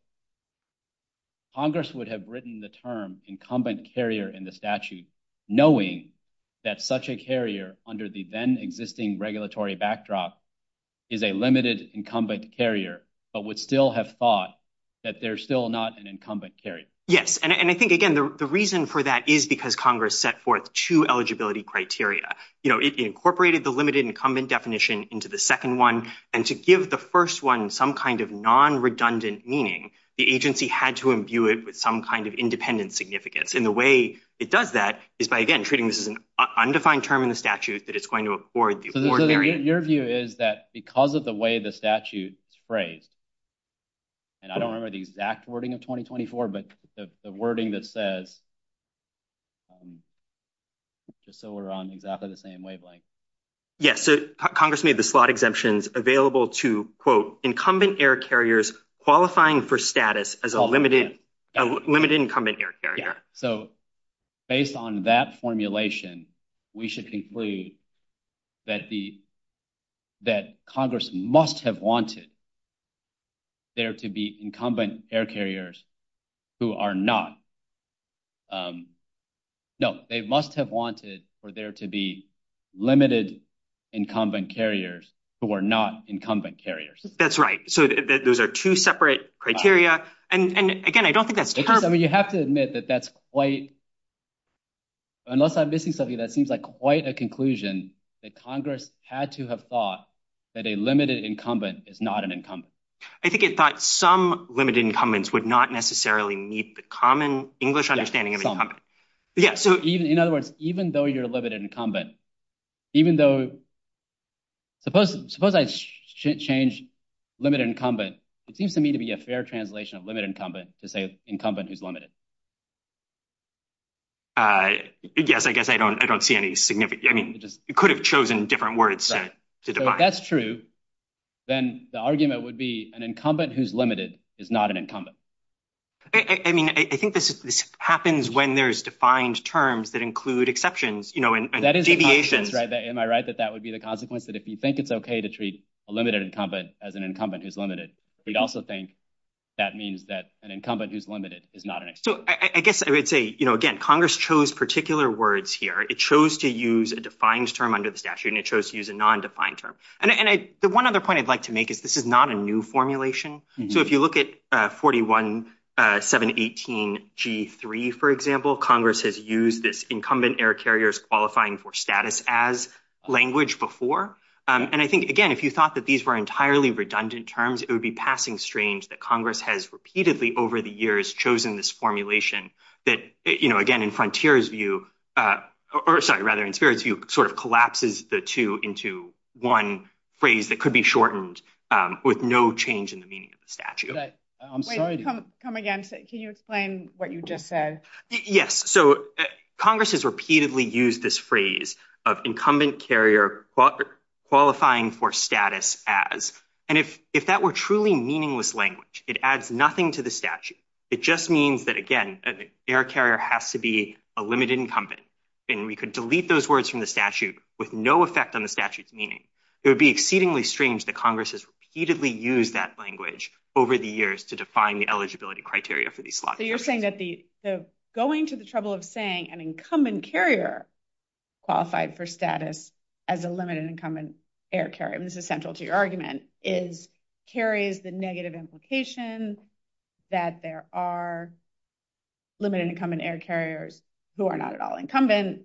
Congress would have written the term incumbent carrier in the statute knowing that such a carrier under the then-existing regulatory backdrop is a limited incumbent carrier, but would still have thought that they're still not an incumbent carrier. Yes, and I think again, the reason for that is because Congress set forth two eligibility criteria. You know, it incorporated the limited incumbent definition into the second one and to give the first one some kind of non-redundant meaning, the agency had to imbue it with some kind of independent significance. And the way it does that is by, again, treating this as an undefined term in the statute that it's going to afford... So your view is that because of the way the statute is phrased, and I don't remember the exact wording of 2024, but the wording that says, just so we're on exactly the same wavelength. Yes, so Congress made the slot exemptions available to quote, incumbent air carriers qualifying for status as a limited incumbent air carrier. So, based on that formulation, we should conclude that Congress must have wanted there to be incumbent air carriers who are not... No, they must have wanted for there to be limited incumbent carriers who are not incumbent carriers. That's right. So those are two separate criteria, and again, I don't think that's true. I mean, you have to admit that that's quite... That's quite a conclusion that Congress had to have thought that a limited incumbent is not an incumbent. I think it thought some limited incumbents would not necessarily meet the common English understanding of incumbent. Yeah, so in other words, even though you're a limited incumbent, even though... Suppose I change limited incumbent. It seems to me to be a fair translation of limited incumbent to say incumbent who's limited. Yes, I guess I don't see any significance. I mean, you could have chosen different words to define. So if that's true, then the argument would be an incumbent who's limited is not an incumbent. I mean, I think this happens when there's defined terms that include exceptions, you know, and deviations. Am I right that that would be the consequence that if you think it's okay to treat a limited incumbent as an incumbent who's limited, we'd also think that means that an incumbent who's limited is not an incumbent. So I guess I would say, you know, again, Congress chose particular words here. It chose to use a defined term under the statute and it chose to use a non-defined term. And the one other point I'd like to make is this is not a new formulation. So if you look at 41 718 G3, for example, Congress has used this incumbent air carriers qualifying for status as language before. And I think, again, if you thought that these were entirely redundant terms, it would be passing strange that Congress has repeatedly over the years chosen this formulation that, you know, again, in Frontier's view, or sorry, rather in Spirit's view, sort of collapses the two into one phrase that could be shortened with no change in the meaning of the statute. Wait, come again. Can you explain what you just said? Yes. So Congress has repeatedly used this phrase of incumbent carrier qualifying for status as, and if that were truly meaningless language, it adds nothing to the statute. It just means that, again, an air carrier has to be a limited incumbent, and we could delete those words from the statute with no effect on the statute's meaning. It would be exceedingly strange that Congress has repeatedly used that language over the years to define the eligibility criteria for these clauses. So you're saying that the going to the trouble of saying an incumbent carrier qualified for status as a limited incumbent air carrier, which is central to your argument, is carries the negative implications that there are limited incumbent air carriers who are not at all incumbent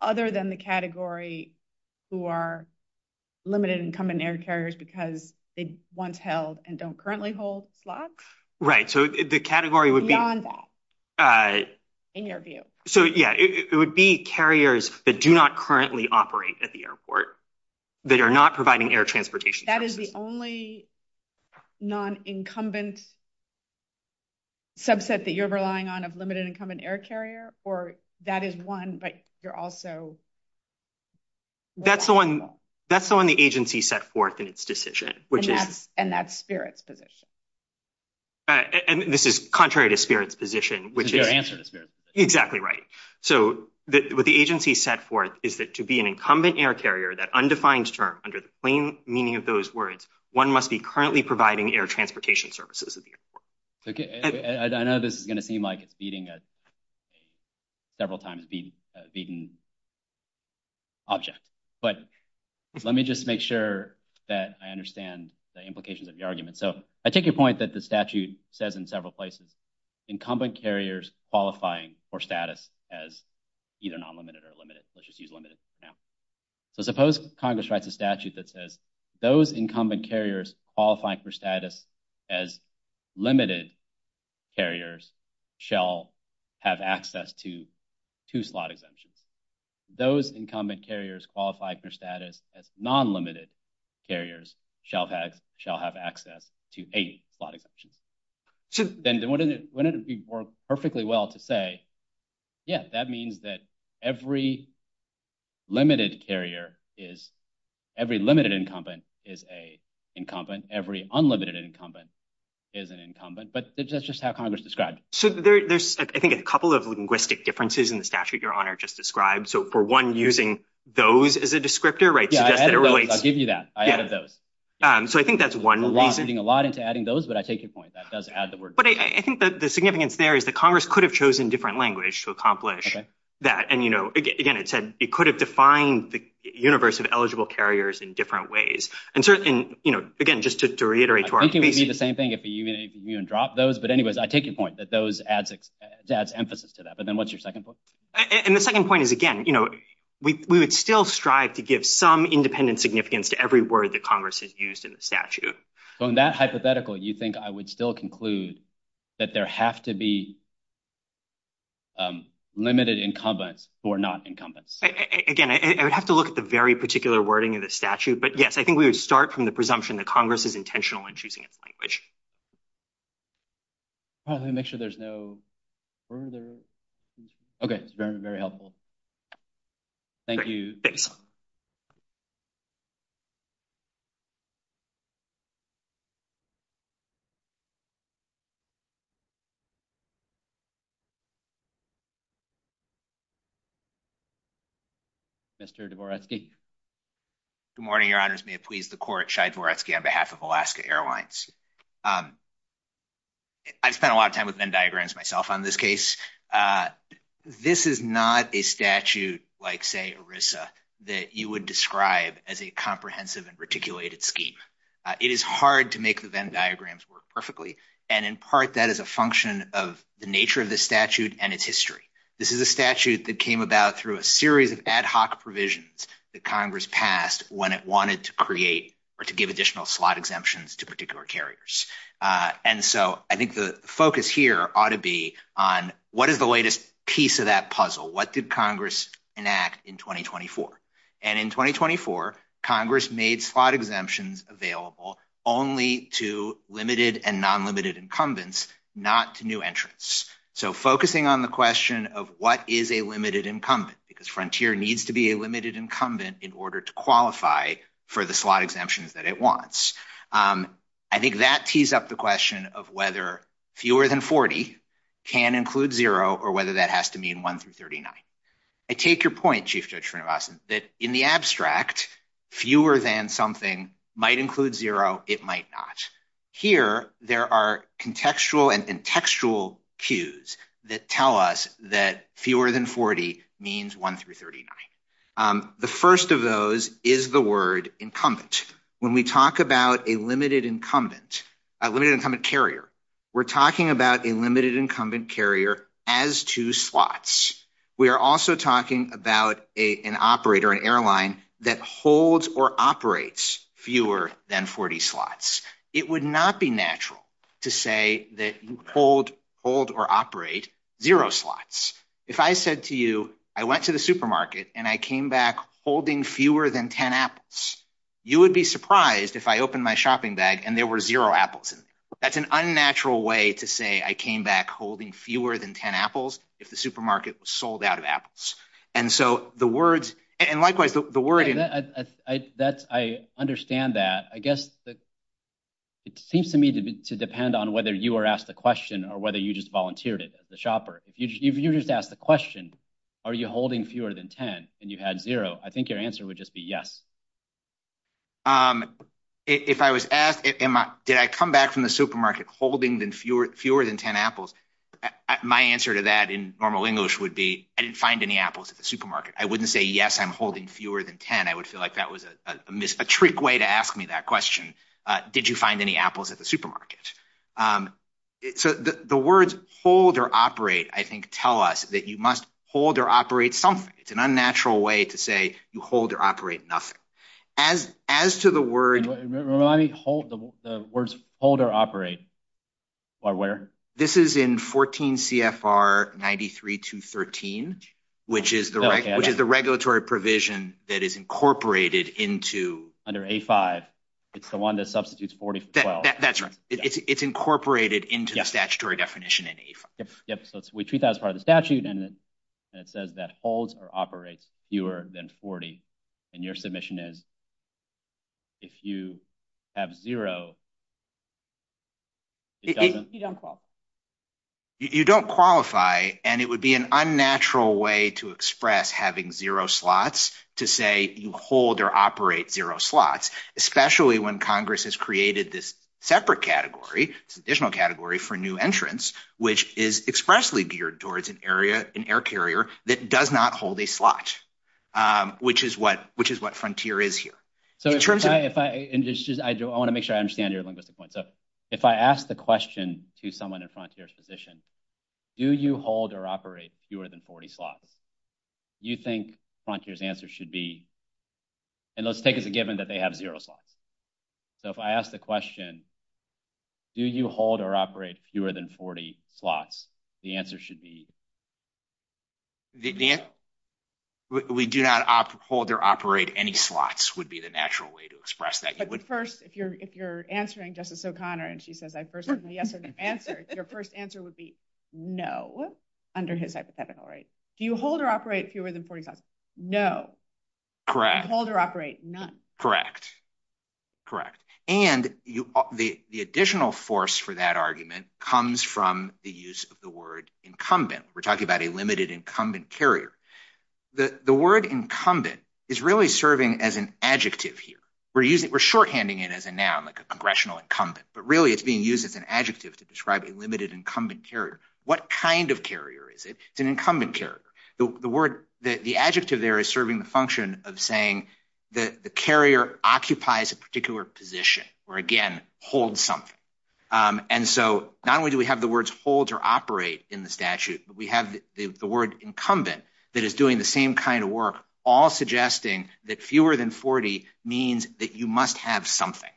other than the category who are limited incumbent air carriers because they once held and don't currently hold slots? Right. So the category would be... Beyond that, in your view. So, yeah, it would be carriers that do not currently operate at the airport that are not providing air transportation. That is the only non-incumbent subset that you're relying on of limited incumbent air carrier or that is one, but you're also... That's the one the agency set forth in its decision. And that's Spirit's position. And this is contrary to Spirit's position, which is... Exactly right. So what the agency set forth is that to be an incumbent air carrier, that undefined term under the plain meaning of those words, one must be currently providing air transportation services at the airport. I know this is going to seem like beating a several times beaten object, but let me just make sure that I understand the implications of the argument. So I take your point that the statute says in several places incumbent carriers qualifying for status as either non-limited or limited. Let's just use limited. So suppose Congress writes a statute that says those incumbent carriers qualifying for status as limited carriers shall have access to two slot exemptions. Those incumbent carriers qualifying for status as non-limited carriers shall have access to 80 slot exemptions. And wouldn't it work perfectly well to say yes, that means that every limited carrier is... Every limited incumbent is an incumbent. Every unlimited incumbent is an incumbent. But that's just how Congress describes it. So there's I think a couple of linguistic differences in the statute your Honor just described. So for one using those as a descriptor right. I'll give you that. I added those. So I think that's one reason. So I'm not changing a lot into adding those, but I take your point. But I think that the significance there is that Congress could have chosen different language to accomplish that. And you know, again, it said it could have defined the universe of eligible carriers in different ways. And certainly, you know, again, just to reiterate to our... I think it would be the same thing if you even dropped those. But anyways, I take your point that those adds emphasis to that. But then what's your second point? And the second point is again, you know, we would still strive to give some independent significance to every word that Congress has used in the statute. So in that hypothetical, you think I would still conclude that there have to be limited incumbents or not incumbents? Again, I would have to look at the very particular wording of the statute. But yes, I think we would start from the presumption that Congress is intentional in choosing a language. Let me make sure there's no further... Okay, very helpful. Thank you. Mr. Dvoretsky? Good morning, Your Honors. May it please the Court, Shai Dvoretsky on behalf of Alaska Airlines. I've spent a lot of time with Venn diagrams myself on this case. This is not a statute like, say, ERISA that you would describe as a comprehensive statute or a comprehensive and articulated scheme. It is hard to make the Venn diagrams work perfectly, and in part that is a function of the nature of the statute and its history. This is a statute that came about through a series of ad hoc provisions that Congress passed when it wanted to create or to give additional slot exemptions to particular carriers. And so I think the focus here ought to be on what is the latest piece of that puzzle? What did Congress enact in 2024? And in 2024, Congress made slot exemptions available only to limited and non-limited incumbents, not to new entrants. So focusing on the question of what is a limited incumbent, because Frontier needs to be a limited incumbent in order to qualify for the slot exemptions that it wants. I think that tees up the question of whether fewer than 40 can include zero or whether that has to mean 1 through 39. I take your point, Chief Judge Frenemason, that in the abstract, fewer than something might include zero, it might not. Here, there are contextual and contextual cues that tell us that fewer than 40 means 1 through 39. The first of those is the word incumbent. When we talk about a limited incumbent, a limited incumbent carrier, we're talking about a limited incumbent carrier as two slots. We are also talking about an operator, an airline, that holds or operates fewer than 40 slots. It would not be natural to say that you hold or operate zero slots. If I said to you, I went to the supermarket and I came back holding fewer than 10 apples, you would be surprised if I opened my shopping bag and there were zero apples in there. That's an unnatural way to say I came back holding fewer than 10 apples if the supermarket was sold out of apples. Likewise, the wording... I understand that. I guess it seems to me to depend on whether you were asked the question or whether you just volunteered it as a shopper. If you just asked the question, are you holding fewer than 10 and you had zero, I think your answer would just be yes. If I was asked, did I come back from the supermarket holding fewer than 10 apples, my answer to that in normal English would be, I didn't find any apples at the supermarket. I wouldn't say, yes, I'm holding fewer than 10. I would feel like that was a trick way to ask me that question. Did you find any apples at the supermarket? The words hold or operate, I think, tell us that you must hold or operate something. It's an unnatural way to say you hold or operate nothing. As to the word... The words hold or operate are where? This is in 14 CFR 93213, which is the regulatory provision that is incorporated into... Under A5, it's the one that substitutes 40. That's right. It's incorporated into the statutory definition in A5. We treat that as part of the statute and it says that holds or operates fewer than 40. Your submission is if you have zero... You don't qualify. You don't qualify and it would be an unnatural way to express having zero slots to say you hold or operate zero slots, especially when Congress has created this separate category, this additional category for new entrants, which is expressly geared towards an air carrier that does not hold a slot, which is what Frontier is here. I want to make sure I understand your linguistic point. If I ask the question to someone at Frontier's position, do you hold or operate fewer than 40 slots? You think Frontier's answer should be... And let's take it as a given that they have zero slots. If I ask the question, do you hold or operate fewer than 40 slots? The answer should be... The answer... We do not hold or operate any slots would be the natural way to express that. But first, if you're answering Justice O'Connor and she says I first gave the answer, the answer, your first answer would be no under his hypothetical, right? Do you hold or operate fewer than 40 slots? No. Correct. I hold or operate none. Correct. Correct. And the additional force for that argument comes from the use of the word incumbent. We're talking about a limited incumbent carrier. The word incumbent is really serving as an adjective here. We're shorthanding it as a noun, like a congressional incumbent. But really it's being used as an adjective to describe a limited incumbent carrier. What kind of carrier is it? It's an incumbent carrier. The word... The adjective there is serving the function of saying that the carrier occupies a particular position where, again, hold something. And so not only do we have the words hold or operate in the statute, but we have the word incumbent that is doing the same kind of work, all suggesting that fewer than 40 means that you must have something.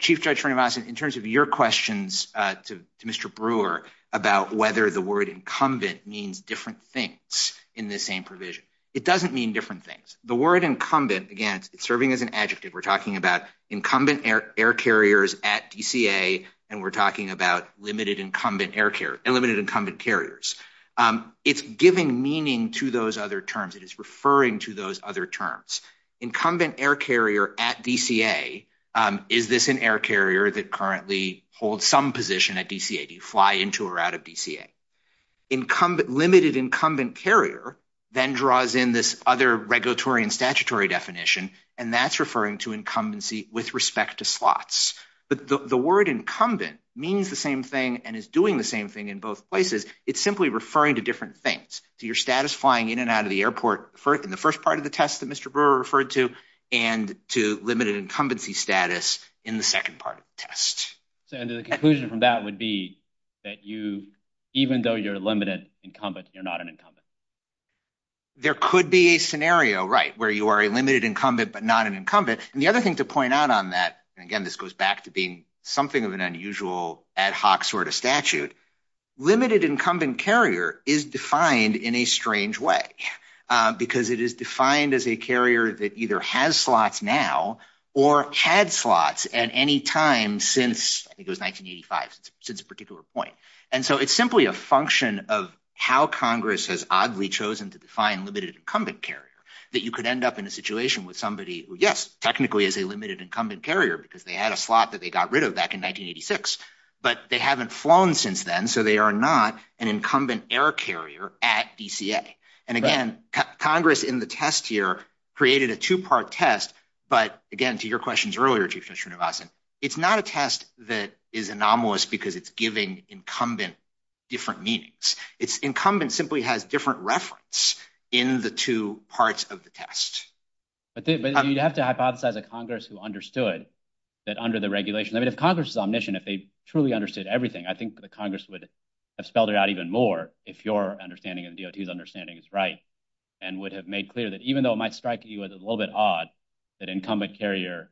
Chief Judge Renovas, in terms of your questions to Mr. Brewer about whether the word incumbent means different things in the same provision. It doesn't mean different things. The word incumbent, again, it's serving as an adjective. We're talking about incumbent air carriers at DCA, and we're talking about limited incumbent carriers. It's giving meaning to those other terms. It is referring to those other terms. Incumbent air carrier at DCA, is this an air carrier that currently holds some position at DCA? Do you fly into or out of DCA? Limited incumbent carrier then draws in this other regulatory and statutory definition, and that's referring to incumbency with respect to slots. The word incumbent means the same thing and is doing the same thing in both places. It's simply referring to different things. Your status flying in and out of the airport in the first part of the test that Mr. Brewer referred to, and to limited incumbency status in the second part of the test. The conclusion from that would be that even though you're a limited incumbent, you're not an incumbent. There could be a scenario where you are a limited incumbent but you're not an incumbent. The other thing to point out on that, and again this goes back to being something of an unusual ad hoc sort of statute, limited incumbent carrier is defined in a strange way because it is defined as a carrier that either has slots now or had slots at any time since, I think it was 1985, since a particular point. It's simply a function of how Congress has oddly chosen to define limited incumbent carrier that you could end up in a situation with somebody who, yes, technically is a limited incumbent carrier because they had a slot that they got rid of back in 1986, but they haven't flown since then, so they are not an incumbent air carrier at DCA. And again, Congress in the test here created a two-part test, but again, to your questions earlier, Chief Commissioner Navasan, it's not a test that is anomalous because it's giving incumbent different meanings. It's incumbent simply has different reference in the two parts of the test. But you'd have to hypothesize that Congress who understood that under the regulation, I mean, if Congress is omniscient, if they truly understood everything, I think the Congress would have spelled it out even more if your understanding and DOT's understanding is right and would have made clear that even though it might strike you as a little bit odd, that incumbent carrier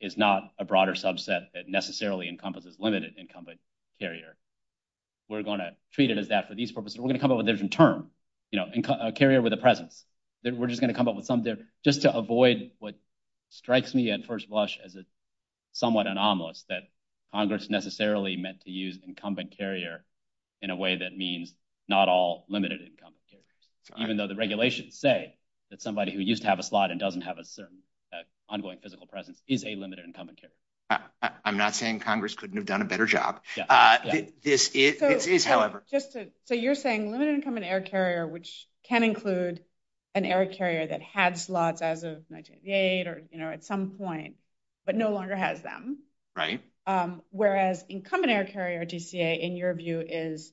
is not a broader subset that necessarily encompasses limited incumbent carrier. We're going to treat it as that for these purposes. We're going to come up with a different term, a carrier with a presence. We're just going to come up with something just to avoid what strikes me at first blush as somewhat anomalous, that Congress necessarily meant to use incumbent carrier in a way that means not all limited incumbent carriers, even though the regulations say that somebody who used to have a slot and doesn't have a certain ongoing physical presence is a limited incumbent carrier. I'm not saying Congress couldn't have done a better job. This is, however... So you're saying limited incumbent air carrier, which can include an air carrier that had slots as of 1988 or at some point, but no longer has them. Right. Whereas incumbent air carrier, DCA, in your view is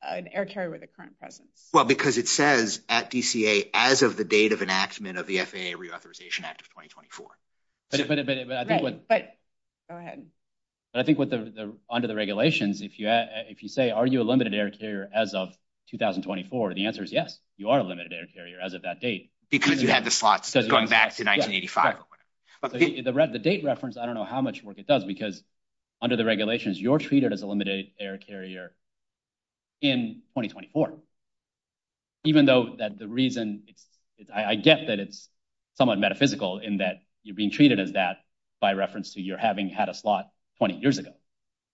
an air carrier with a current presence. Well, because it says at DCA, as of the date of enactment of the FAA Reauthorization Act of 2024. Go ahead. I think under the regulations, if you say, are you a limited air carrier as of 2024, the answer is yes, you are a limited air carrier as of that date. Because you have the slots going back to 1985. The date reference, I don't know how much work it does because under the regulations, you're treated as a limited air carrier in 2024. Even though that the reason I guess that it's somewhat metaphysical in that you're being treated as that by reference to your having had a slot 20 years ago.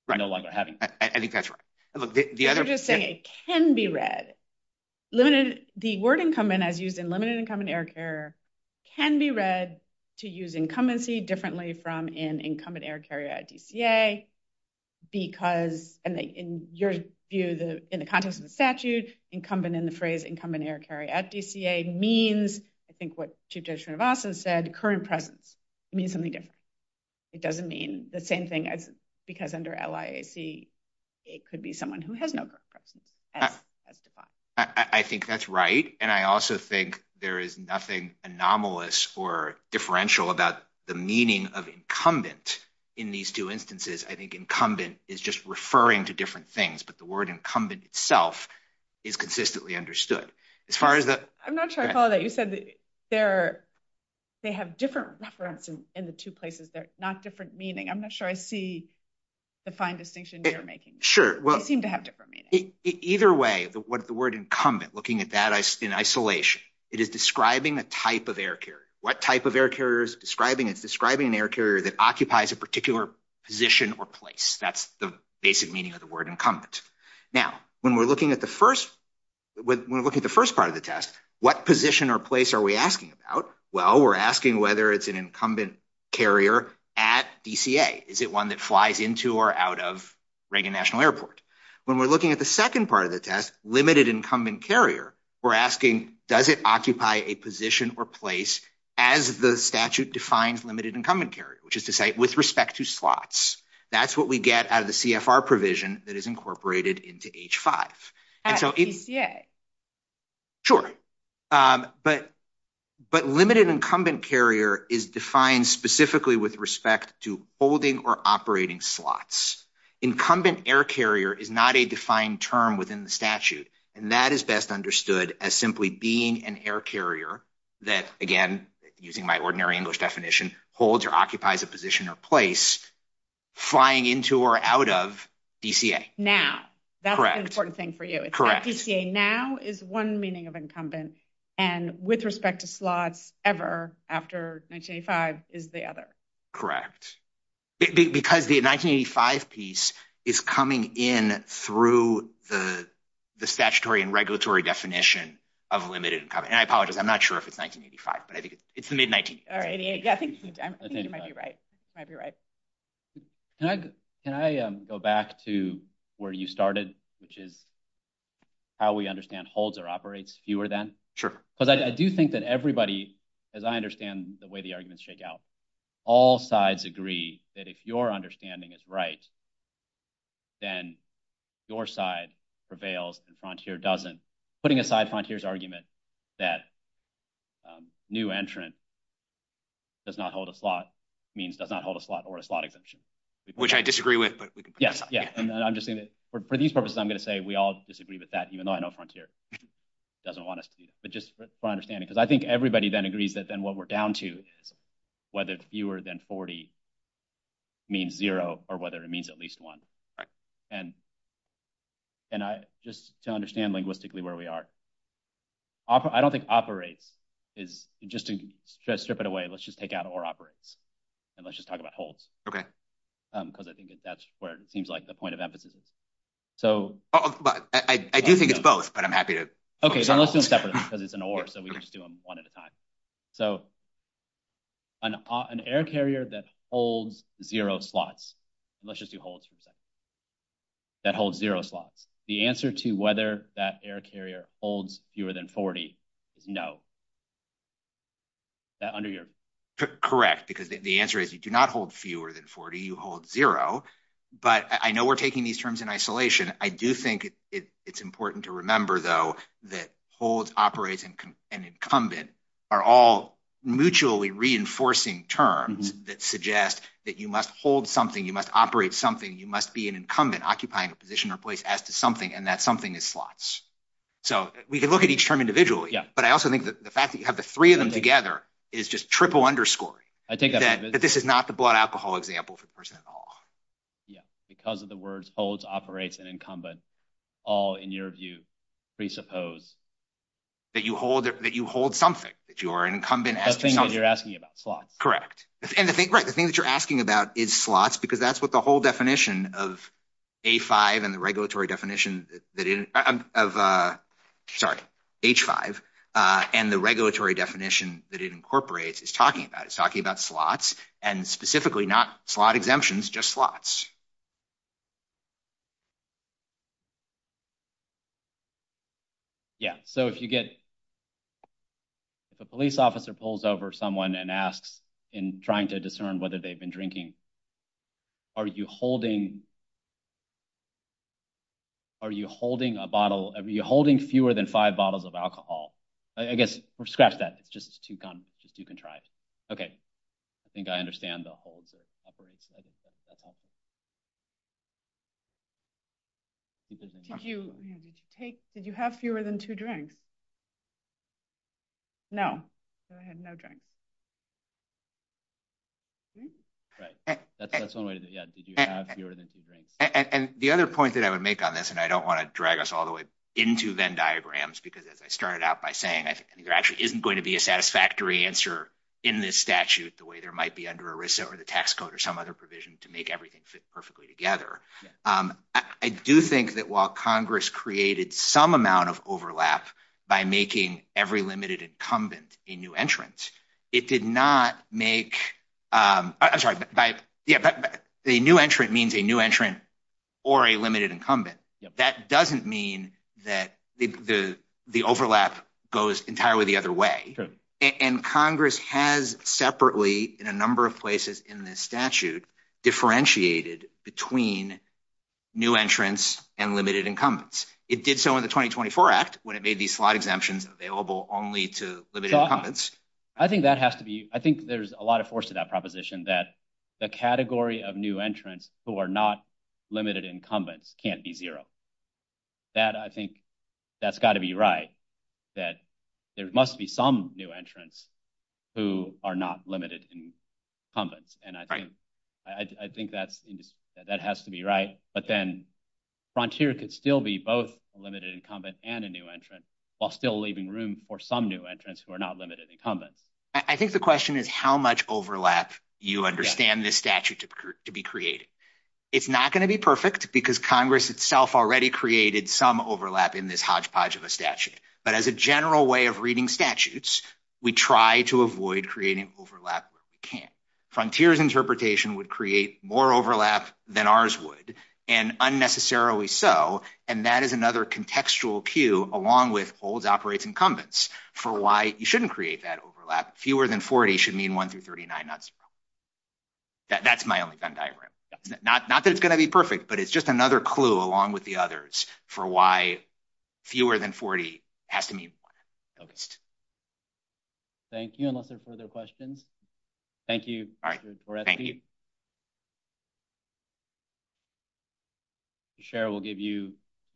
I think that's right. I'm just saying it can be read. The word incumbent as used in limited air carrier can be read to use incumbency differently from an incumbent air carrier at DCA because in the context of the statute, incumbent in the phrase air carrier at DCA means I think what Chief Judge Narvasa said current presence means something different. It doesn't mean the same thing as because under LIAC it could be someone who has no current presence. I think that's right and I also think there is nothing anomalous or differential about the meaning of incumbent in these two instances. I think incumbent is just referring to different things but the word incumbent itself is consistently understood. I'm not sure I follow that. You said they have different references in the two places that are not different meaning. I'm not sure I see the fine distinction you're making. They seem to have different meanings. Either way, the word incumbent looking at that in isolation it is describing a type of air carrier. What type of air carrier is it describing? It's describing an air carrier that occupies a particular position or place. That's the basic meaning of the word incumbent. Now, when we're looking at the first part of the test, what position or place are we asking about? Well, we're asking whether it's an incumbent carrier at DCA. Is it one that flies into or out of Reagan National Airport? When we're looking at the second part of the test, limited incumbent carrier, we're asking does it occupy a position or place as the statute defines limited incumbent carrier which is to say with respect to slots. That's what we get out of the CFR provision that is incorporated into H-5. At DCA? Sure. But limited incumbent carrier is defined specifically with respect to holding or operating slots. Incumbent air carrier is not a defined term within the statute. That is best understood as simply being an air carrier that again, using my ordinary English definition, holds or occupies a position or place flying into or out of DCA. Now. That's the important thing for you. Correct. DCA now is one meaning of incumbent and with respect to slots ever after 1985 is the other. Because the 1985 piece is coming in through the statutory and regulatory definition of a limited incumbent. And I apologize, I'm not sure if it's 1985 but I think it's the mid-1980s. I think you might be right. Can I go back to where you started, which is how we understand holds or operates fewer than? Sure. But I do think that everybody, as I understand the way the arguments shake out, all sides agree that if your understanding is right, then your side prevails and Frontier doesn't. Putting aside Frontier's argument that new entrant does not hold a slot means does not hold a slot or a slot exemption. Which I disagree with. For these purposes, I'm going to say we all disagree with that even though I know Frontier doesn't want us to. But just for understanding, because I think everybody then agrees that then what we're down to whether fewer than 40 means 0 or whether it means at least 1. just to understand linguistically where we are, I don't think operate is, just to strip it away, let's just take out or operates. And let's just talk about holds. Okay. Because I think that's where it seems like the point of emphasis is. So... I do think it's both, but I'm happy to... Okay, then let's do them separately because it's an or, so we can just do them one at a time. So an air carrier that holds 0 slots, let's just do holds for a second, that holds 0 slots, the answer to whether that air carrier holds fewer than 40 is no. Under your... Correct, because the answer is you do not hold fewer than 40, you hold 0. But I know we're taking these terms in isolation. I do think it's important to remember, though, that holds, operates, and incumbent are all mutually reinforcing terms that suggest that you must hold something, you must operate something, you must be an incumbent occupying a position or place as to something, and that something is slots. So we can look at each term individually, but I also think that the fact that you have the three of them together is just triple underscoring that this is not the blood alcohol example for the person in the hall. Yeah, because of the words holds, operates, and incumbent all, in your view, presuppose that you hold something, that you are an incumbent asking something. The thing that you're asking about, slots. Correct. Right, the thing that you're asking about is slots, because that's what the whole definition of A5 and the regulatory definition of H5 and the regulatory definition that it incorporates is talking about. It's talking about slots and specifically not slot exemptions, just slots. Yeah, so if you get a police officer pulls over someone and asks in trying to discern whether they've been drinking, are you holding a bottle, are you holding fewer than five bottles of alcohol? I guess, scratch that. It's just too contrived. Okay, I think I understand the holds. Did you have fewer than two drinks? No. No drinks. And the other point that I would like to make on this, and I don't want to drag us all the way into Venn diagrams, because as I started out by saying, there actually isn't going to be a satisfactory answer in this statute the way there might be under ERISA or the tax code or some other provision to make everything fit perfectly together. I do think that while Congress created some amount of overlap by making every limited incumbent a new entrant, it did not make, a new entrant means a new entrant or a limited incumbent. That doesn't mean that the overlap goes entirely the other way. And Congress has separately in a number of places in this statute differentiated between new entrants and limited incumbents. It did so in the 2024 Act when it made these slot exemptions available only to limited incumbents. I think that has to be, I think there's a lot of force to that proposition that the category of new entrants who are not limited incumbents can't be zero. I think that's got to be right that there must be some new entrants who are not limited incumbents. And I think that has to be right. But then Frontier can still be both a limited incumbent and a new entrant while still leaving room for some new entrants who are not limited incumbents. I think the question is how much overlap you understand this statute to be creating. It's not going to be perfect because Congress itself already created some overlap in this hodgepodge of a statute. But as a general way of reading statutes we try to avoid creating overlap where we can. Frontier's interpretation would create more overlap than ours would and unnecessarily so and that is another contextual cue along with old operating incumbents for why you shouldn't create that overlap. Fewer than 40 should mean 1 through 39 not 0. That's my only diagram. Not that it's going to be perfect but it's just another clue along with the others for why fewer than 40 has to mean 1. Thank you. Any further questions? Thank you.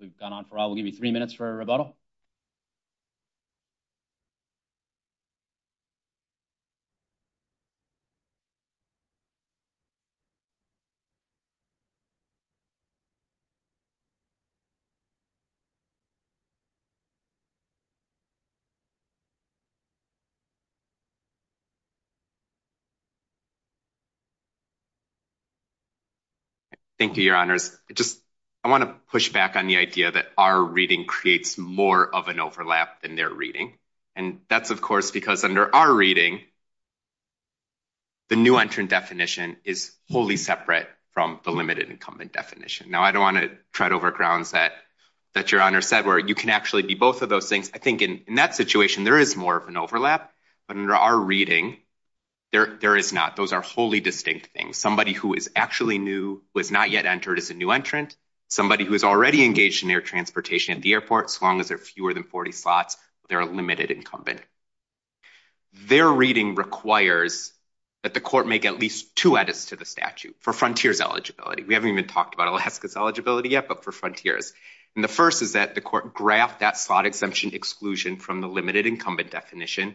We've gone on for a while. We'll give you three minutes for a rebuttal. Thank you. Thank you, Your Honors. I want to push back on the idea that our reading creates more of an overlap than their reading and that's of course because under our reading the new entrant definition is wholly separate from the limited incumbent definition. Now I don't want to tread over grounds that Your Honor said where you can actually be both of those things. I think in that situation there is more of an overlap but under our reading there is not. Those are wholly distinct things. Somebody who is actually new, who has not yet entered as a new entrant, somebody who is already engaged in their transportation at the airport, as long as there are fewer than 40 spots, they're a limited incumbent. Their reading requires that the court make at least two edits to the statute for Frontiers eligibility. We haven't even talked about Alaska's eligibility yet but for Frontiers. And the first is that the court graphed that spot exemption exclusion from the limited incumbent definition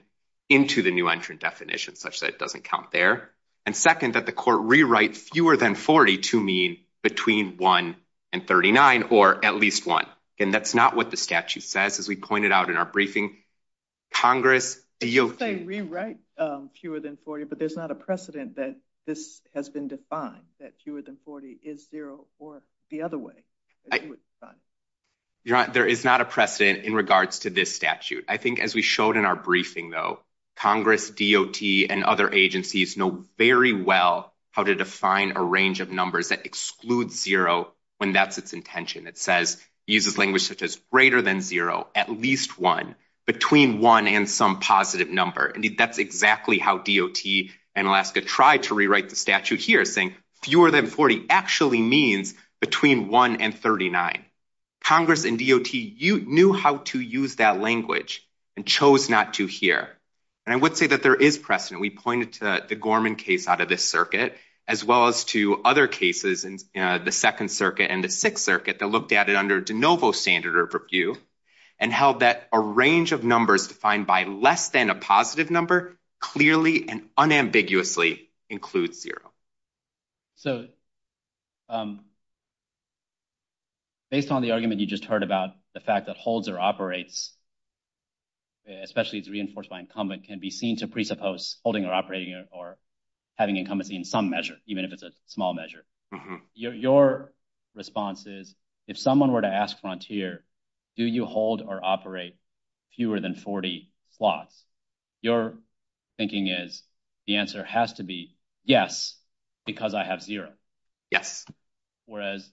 into the new entrant definition such that it doesn't count there. And second that the court rewrites fewer than 40 to mean between 1 and 39 or at least one. And that's not what the statute says as we pointed out in our briefing. Congress... We write fewer than 40 but there's not a precedent that this has been defined that fewer than 40 is zero or the other way. Your Honor, there is not a precedent in regards to this statute. I think as we showed in our briefing though, Congress, DOT and other agencies know very well how to define a range of numbers that excludes zero when that's its intention. It says it uses language such as greater than zero at least one between one and some positive number. And that's exactly how DOT and Alaska tried to rewrite the statute here saying fewer than 40 actually means between 1 and 39. Congress and DOT knew how to use that language and chose not to here. And I would say that there is precedent. We pointed to the Gorman case out of this circuit as well as to other cases in the 2nd circuit and the 6th circuit that looked at it under de novo standard or purview and held that a range of numbers defined by less than a positive number clearly and unambiguously include zero. So based on the argument you just heard about the fact that holds or operates especially if it's reinforced by incumbent can be seen to presuppose holding or operating or having incumbency in some measure even if it's a small measure. Your response is if someone were to ask Frontier do you hold or operate fewer than 40 plots? Your thinking is the answer has to be yes because I have zero. Whereas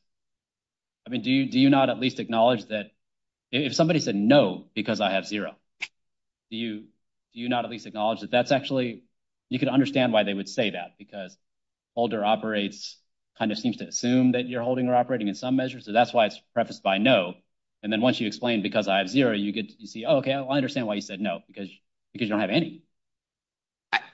do you not at least acknowledge that if somebody said no because I have zero do you not at least acknowledge that that's actually you can understand why they would say that because holder operates kind of seems to assume that you're holding or operating in some measure so that's why it's prefaced by no and then once you explain because I have zero you get to see okay I understand why you said no because you don't have any.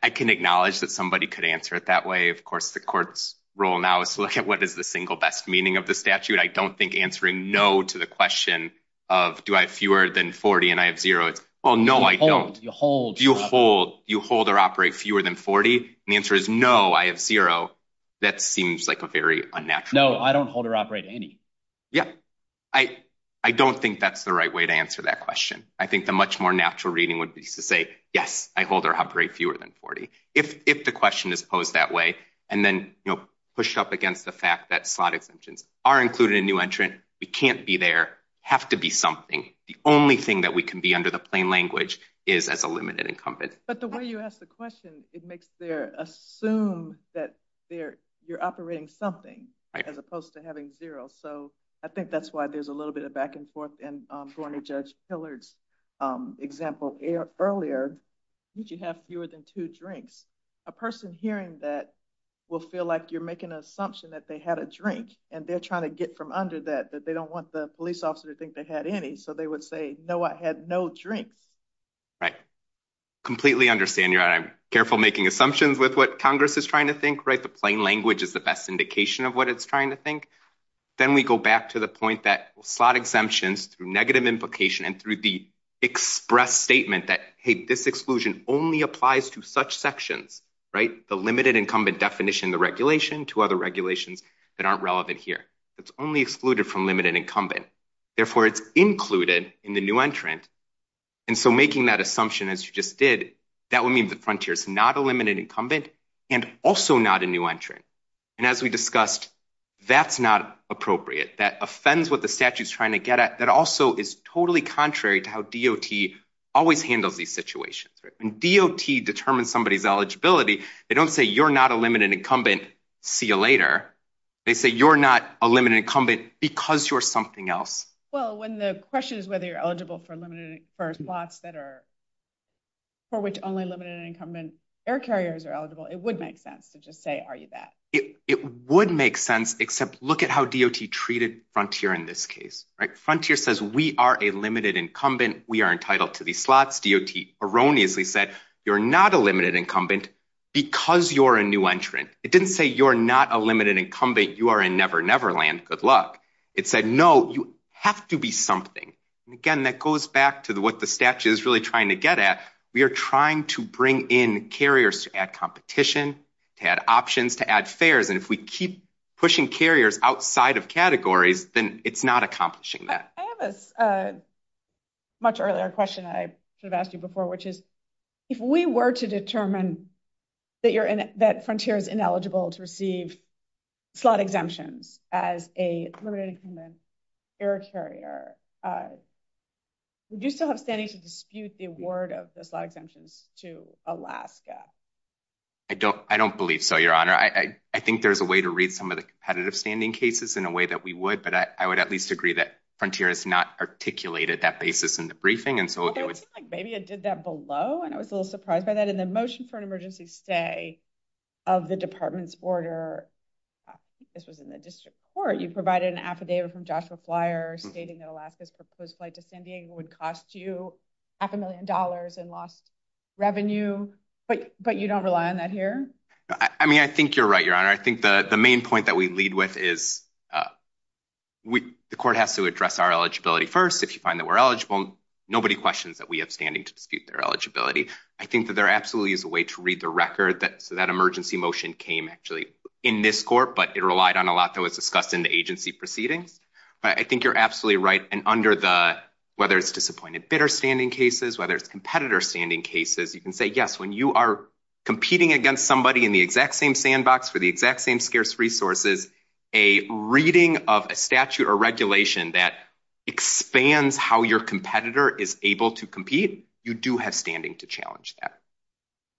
I can acknowledge that somebody could answer it that way. Of course the court's role now is to look at what is the single best meaning of the statute. I don't think answering no to the question of do I have fewer than 40 and I have zero is oh no I don't. You hold. You hold or operate fewer than 40? The answer is no I have zero. That seems like a very unnatural answer. No I don't hold or operate any. Yes. I don't think that's the right way to answer that question. I think a much more natural reading would be to say yes I hold or operate fewer than 40. If the question is posed that way and then push up against the fact that slotted dimensions are included in new entrant it can't be there. It has to be something. The only thing that we can be under the plain language is as a limited incumbent. But the way you ask the question it makes there assume that you're operating something as opposed to having zero. So I think that's why there's a little bit of back and forth and for any judge Hillard's example earlier you can have fewer than two drinks. A person hearing that will feel like you're making an assumption that they had a drink and they're trying to get from under that they don't want the police officer to think they had any. So they would say no I had no drink. Completely understand. I'm careful making assumptions with what Congress is trying to think. The plain language is the best indication of what it's trying to think. Then we go back to the point that slot exemptions through negative implication and through the express statement that this exclusion only applies to such sections. The limited incumbent definition of the regulation to other regulations that are relevant here. It's only excluded from limited incumbent. Therefore it's included in the new entrant. And so making that assumption as you just did that would mean the frontier is not a limited incumbent and also not a new entrant. And as we discussed that's not appropriate that offends what the statute is trying to get at that also is totally contrary to how DOT always handles these situations. When DOT determines somebody's eligibility they don't say you're not a limited incumbent. See you later. They say you're not a limited incumbent because you're something else. Well when the question is whether you're eligible for limited slots that are for which only limited incumbent air carriers are eligible it would make sense to just say are you that. It would make sense except look at how DOT treated frontier in this case. Frontier says we are a limited incumbent. We are entitled to these slots. DOT erroneously said you're not a limited incumbent because you're a new entrant. It didn't say you're not a limited incumbent. You are in Never Neverland. Good luck. It said no you have to be something. Again that goes back to what the statute is really trying to get at. We are trying to bring in carriers to add competition, to add options, to add fares. And if we keep pushing carriers outside of categories then it's not accomplishing that. I have a much earlier question I should have asked you before which is if we were to determine that frontier is ineligible to receive slot exemptions as a limited incumbent air carrier would you still have standing to dispute the award of the slot exemptions to Alaska? I don't believe so, Your Honor. I think there's a way to read some of the competitive standing cases in a way that we would but I would at least agree that frontier has not articulated that basis in the briefing. It seems like maybe it did that below and I was a little surprised by that. In the motion for an emergency stay of the department's order I think this was in the district court you provided an affidavit from Joshua Flyer stating that Alaska's proposed flight to San Diego would cost you half a million dollars in lost revenue but you don't rely on that here? I mean I think you're right, Your Honor. I think the main point that we lead with is the court has to address our eligibility first. If you find that we're eligible nobody questions that we have standing to dispute their eligibility. I think that there absolutely is a way to read the record that emergency motion came actually in this court but it relied on a lot that was discussed in the agency proceeding but I think you're absolutely right and under the whether it's disappointed bitter standing cases, whether it's competitor standing cases you can say yes when you are competing against somebody in the exact same sandbox for the exact same scarce resources a reading of a statute or regulation that expands how your competitor is able to compete, you do have standing to challenge that.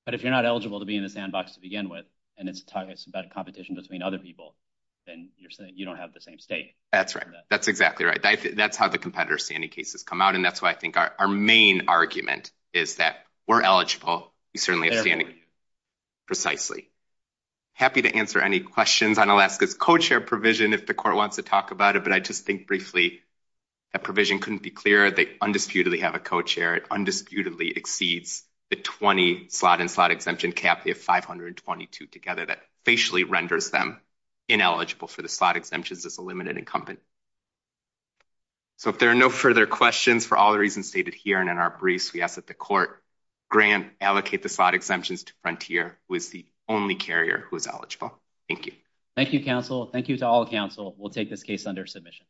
But if you're not eligible to be in the sandbox to begin with and it's about competition between other people then you're saying you don't have the same stake. That's right. That's exactly right. That's how the competitor standing cases come out and that's why I think our main argument is that we're eligible. You certainly have standing. Precisely. Happy to answer any questions on Alaska's co-chair provision if the court wants to talk about it but I just think briefly that provision couldn't be clearer. They undisputedly have a co-chair. It undisputedly exceeds the 20 slot and slot exemption cap. They have 522 together that facially renders them ineligible for the slot exemptions as a limited incumbent. So if there are no further questions for all the reasons stated here and in our briefs we ask that the court grant allocate the slot exemptions to Frontier who is the only carrier who is eligible. Thank you. Thank you counsel. Thank you to all counsel. We'll take this case under submission.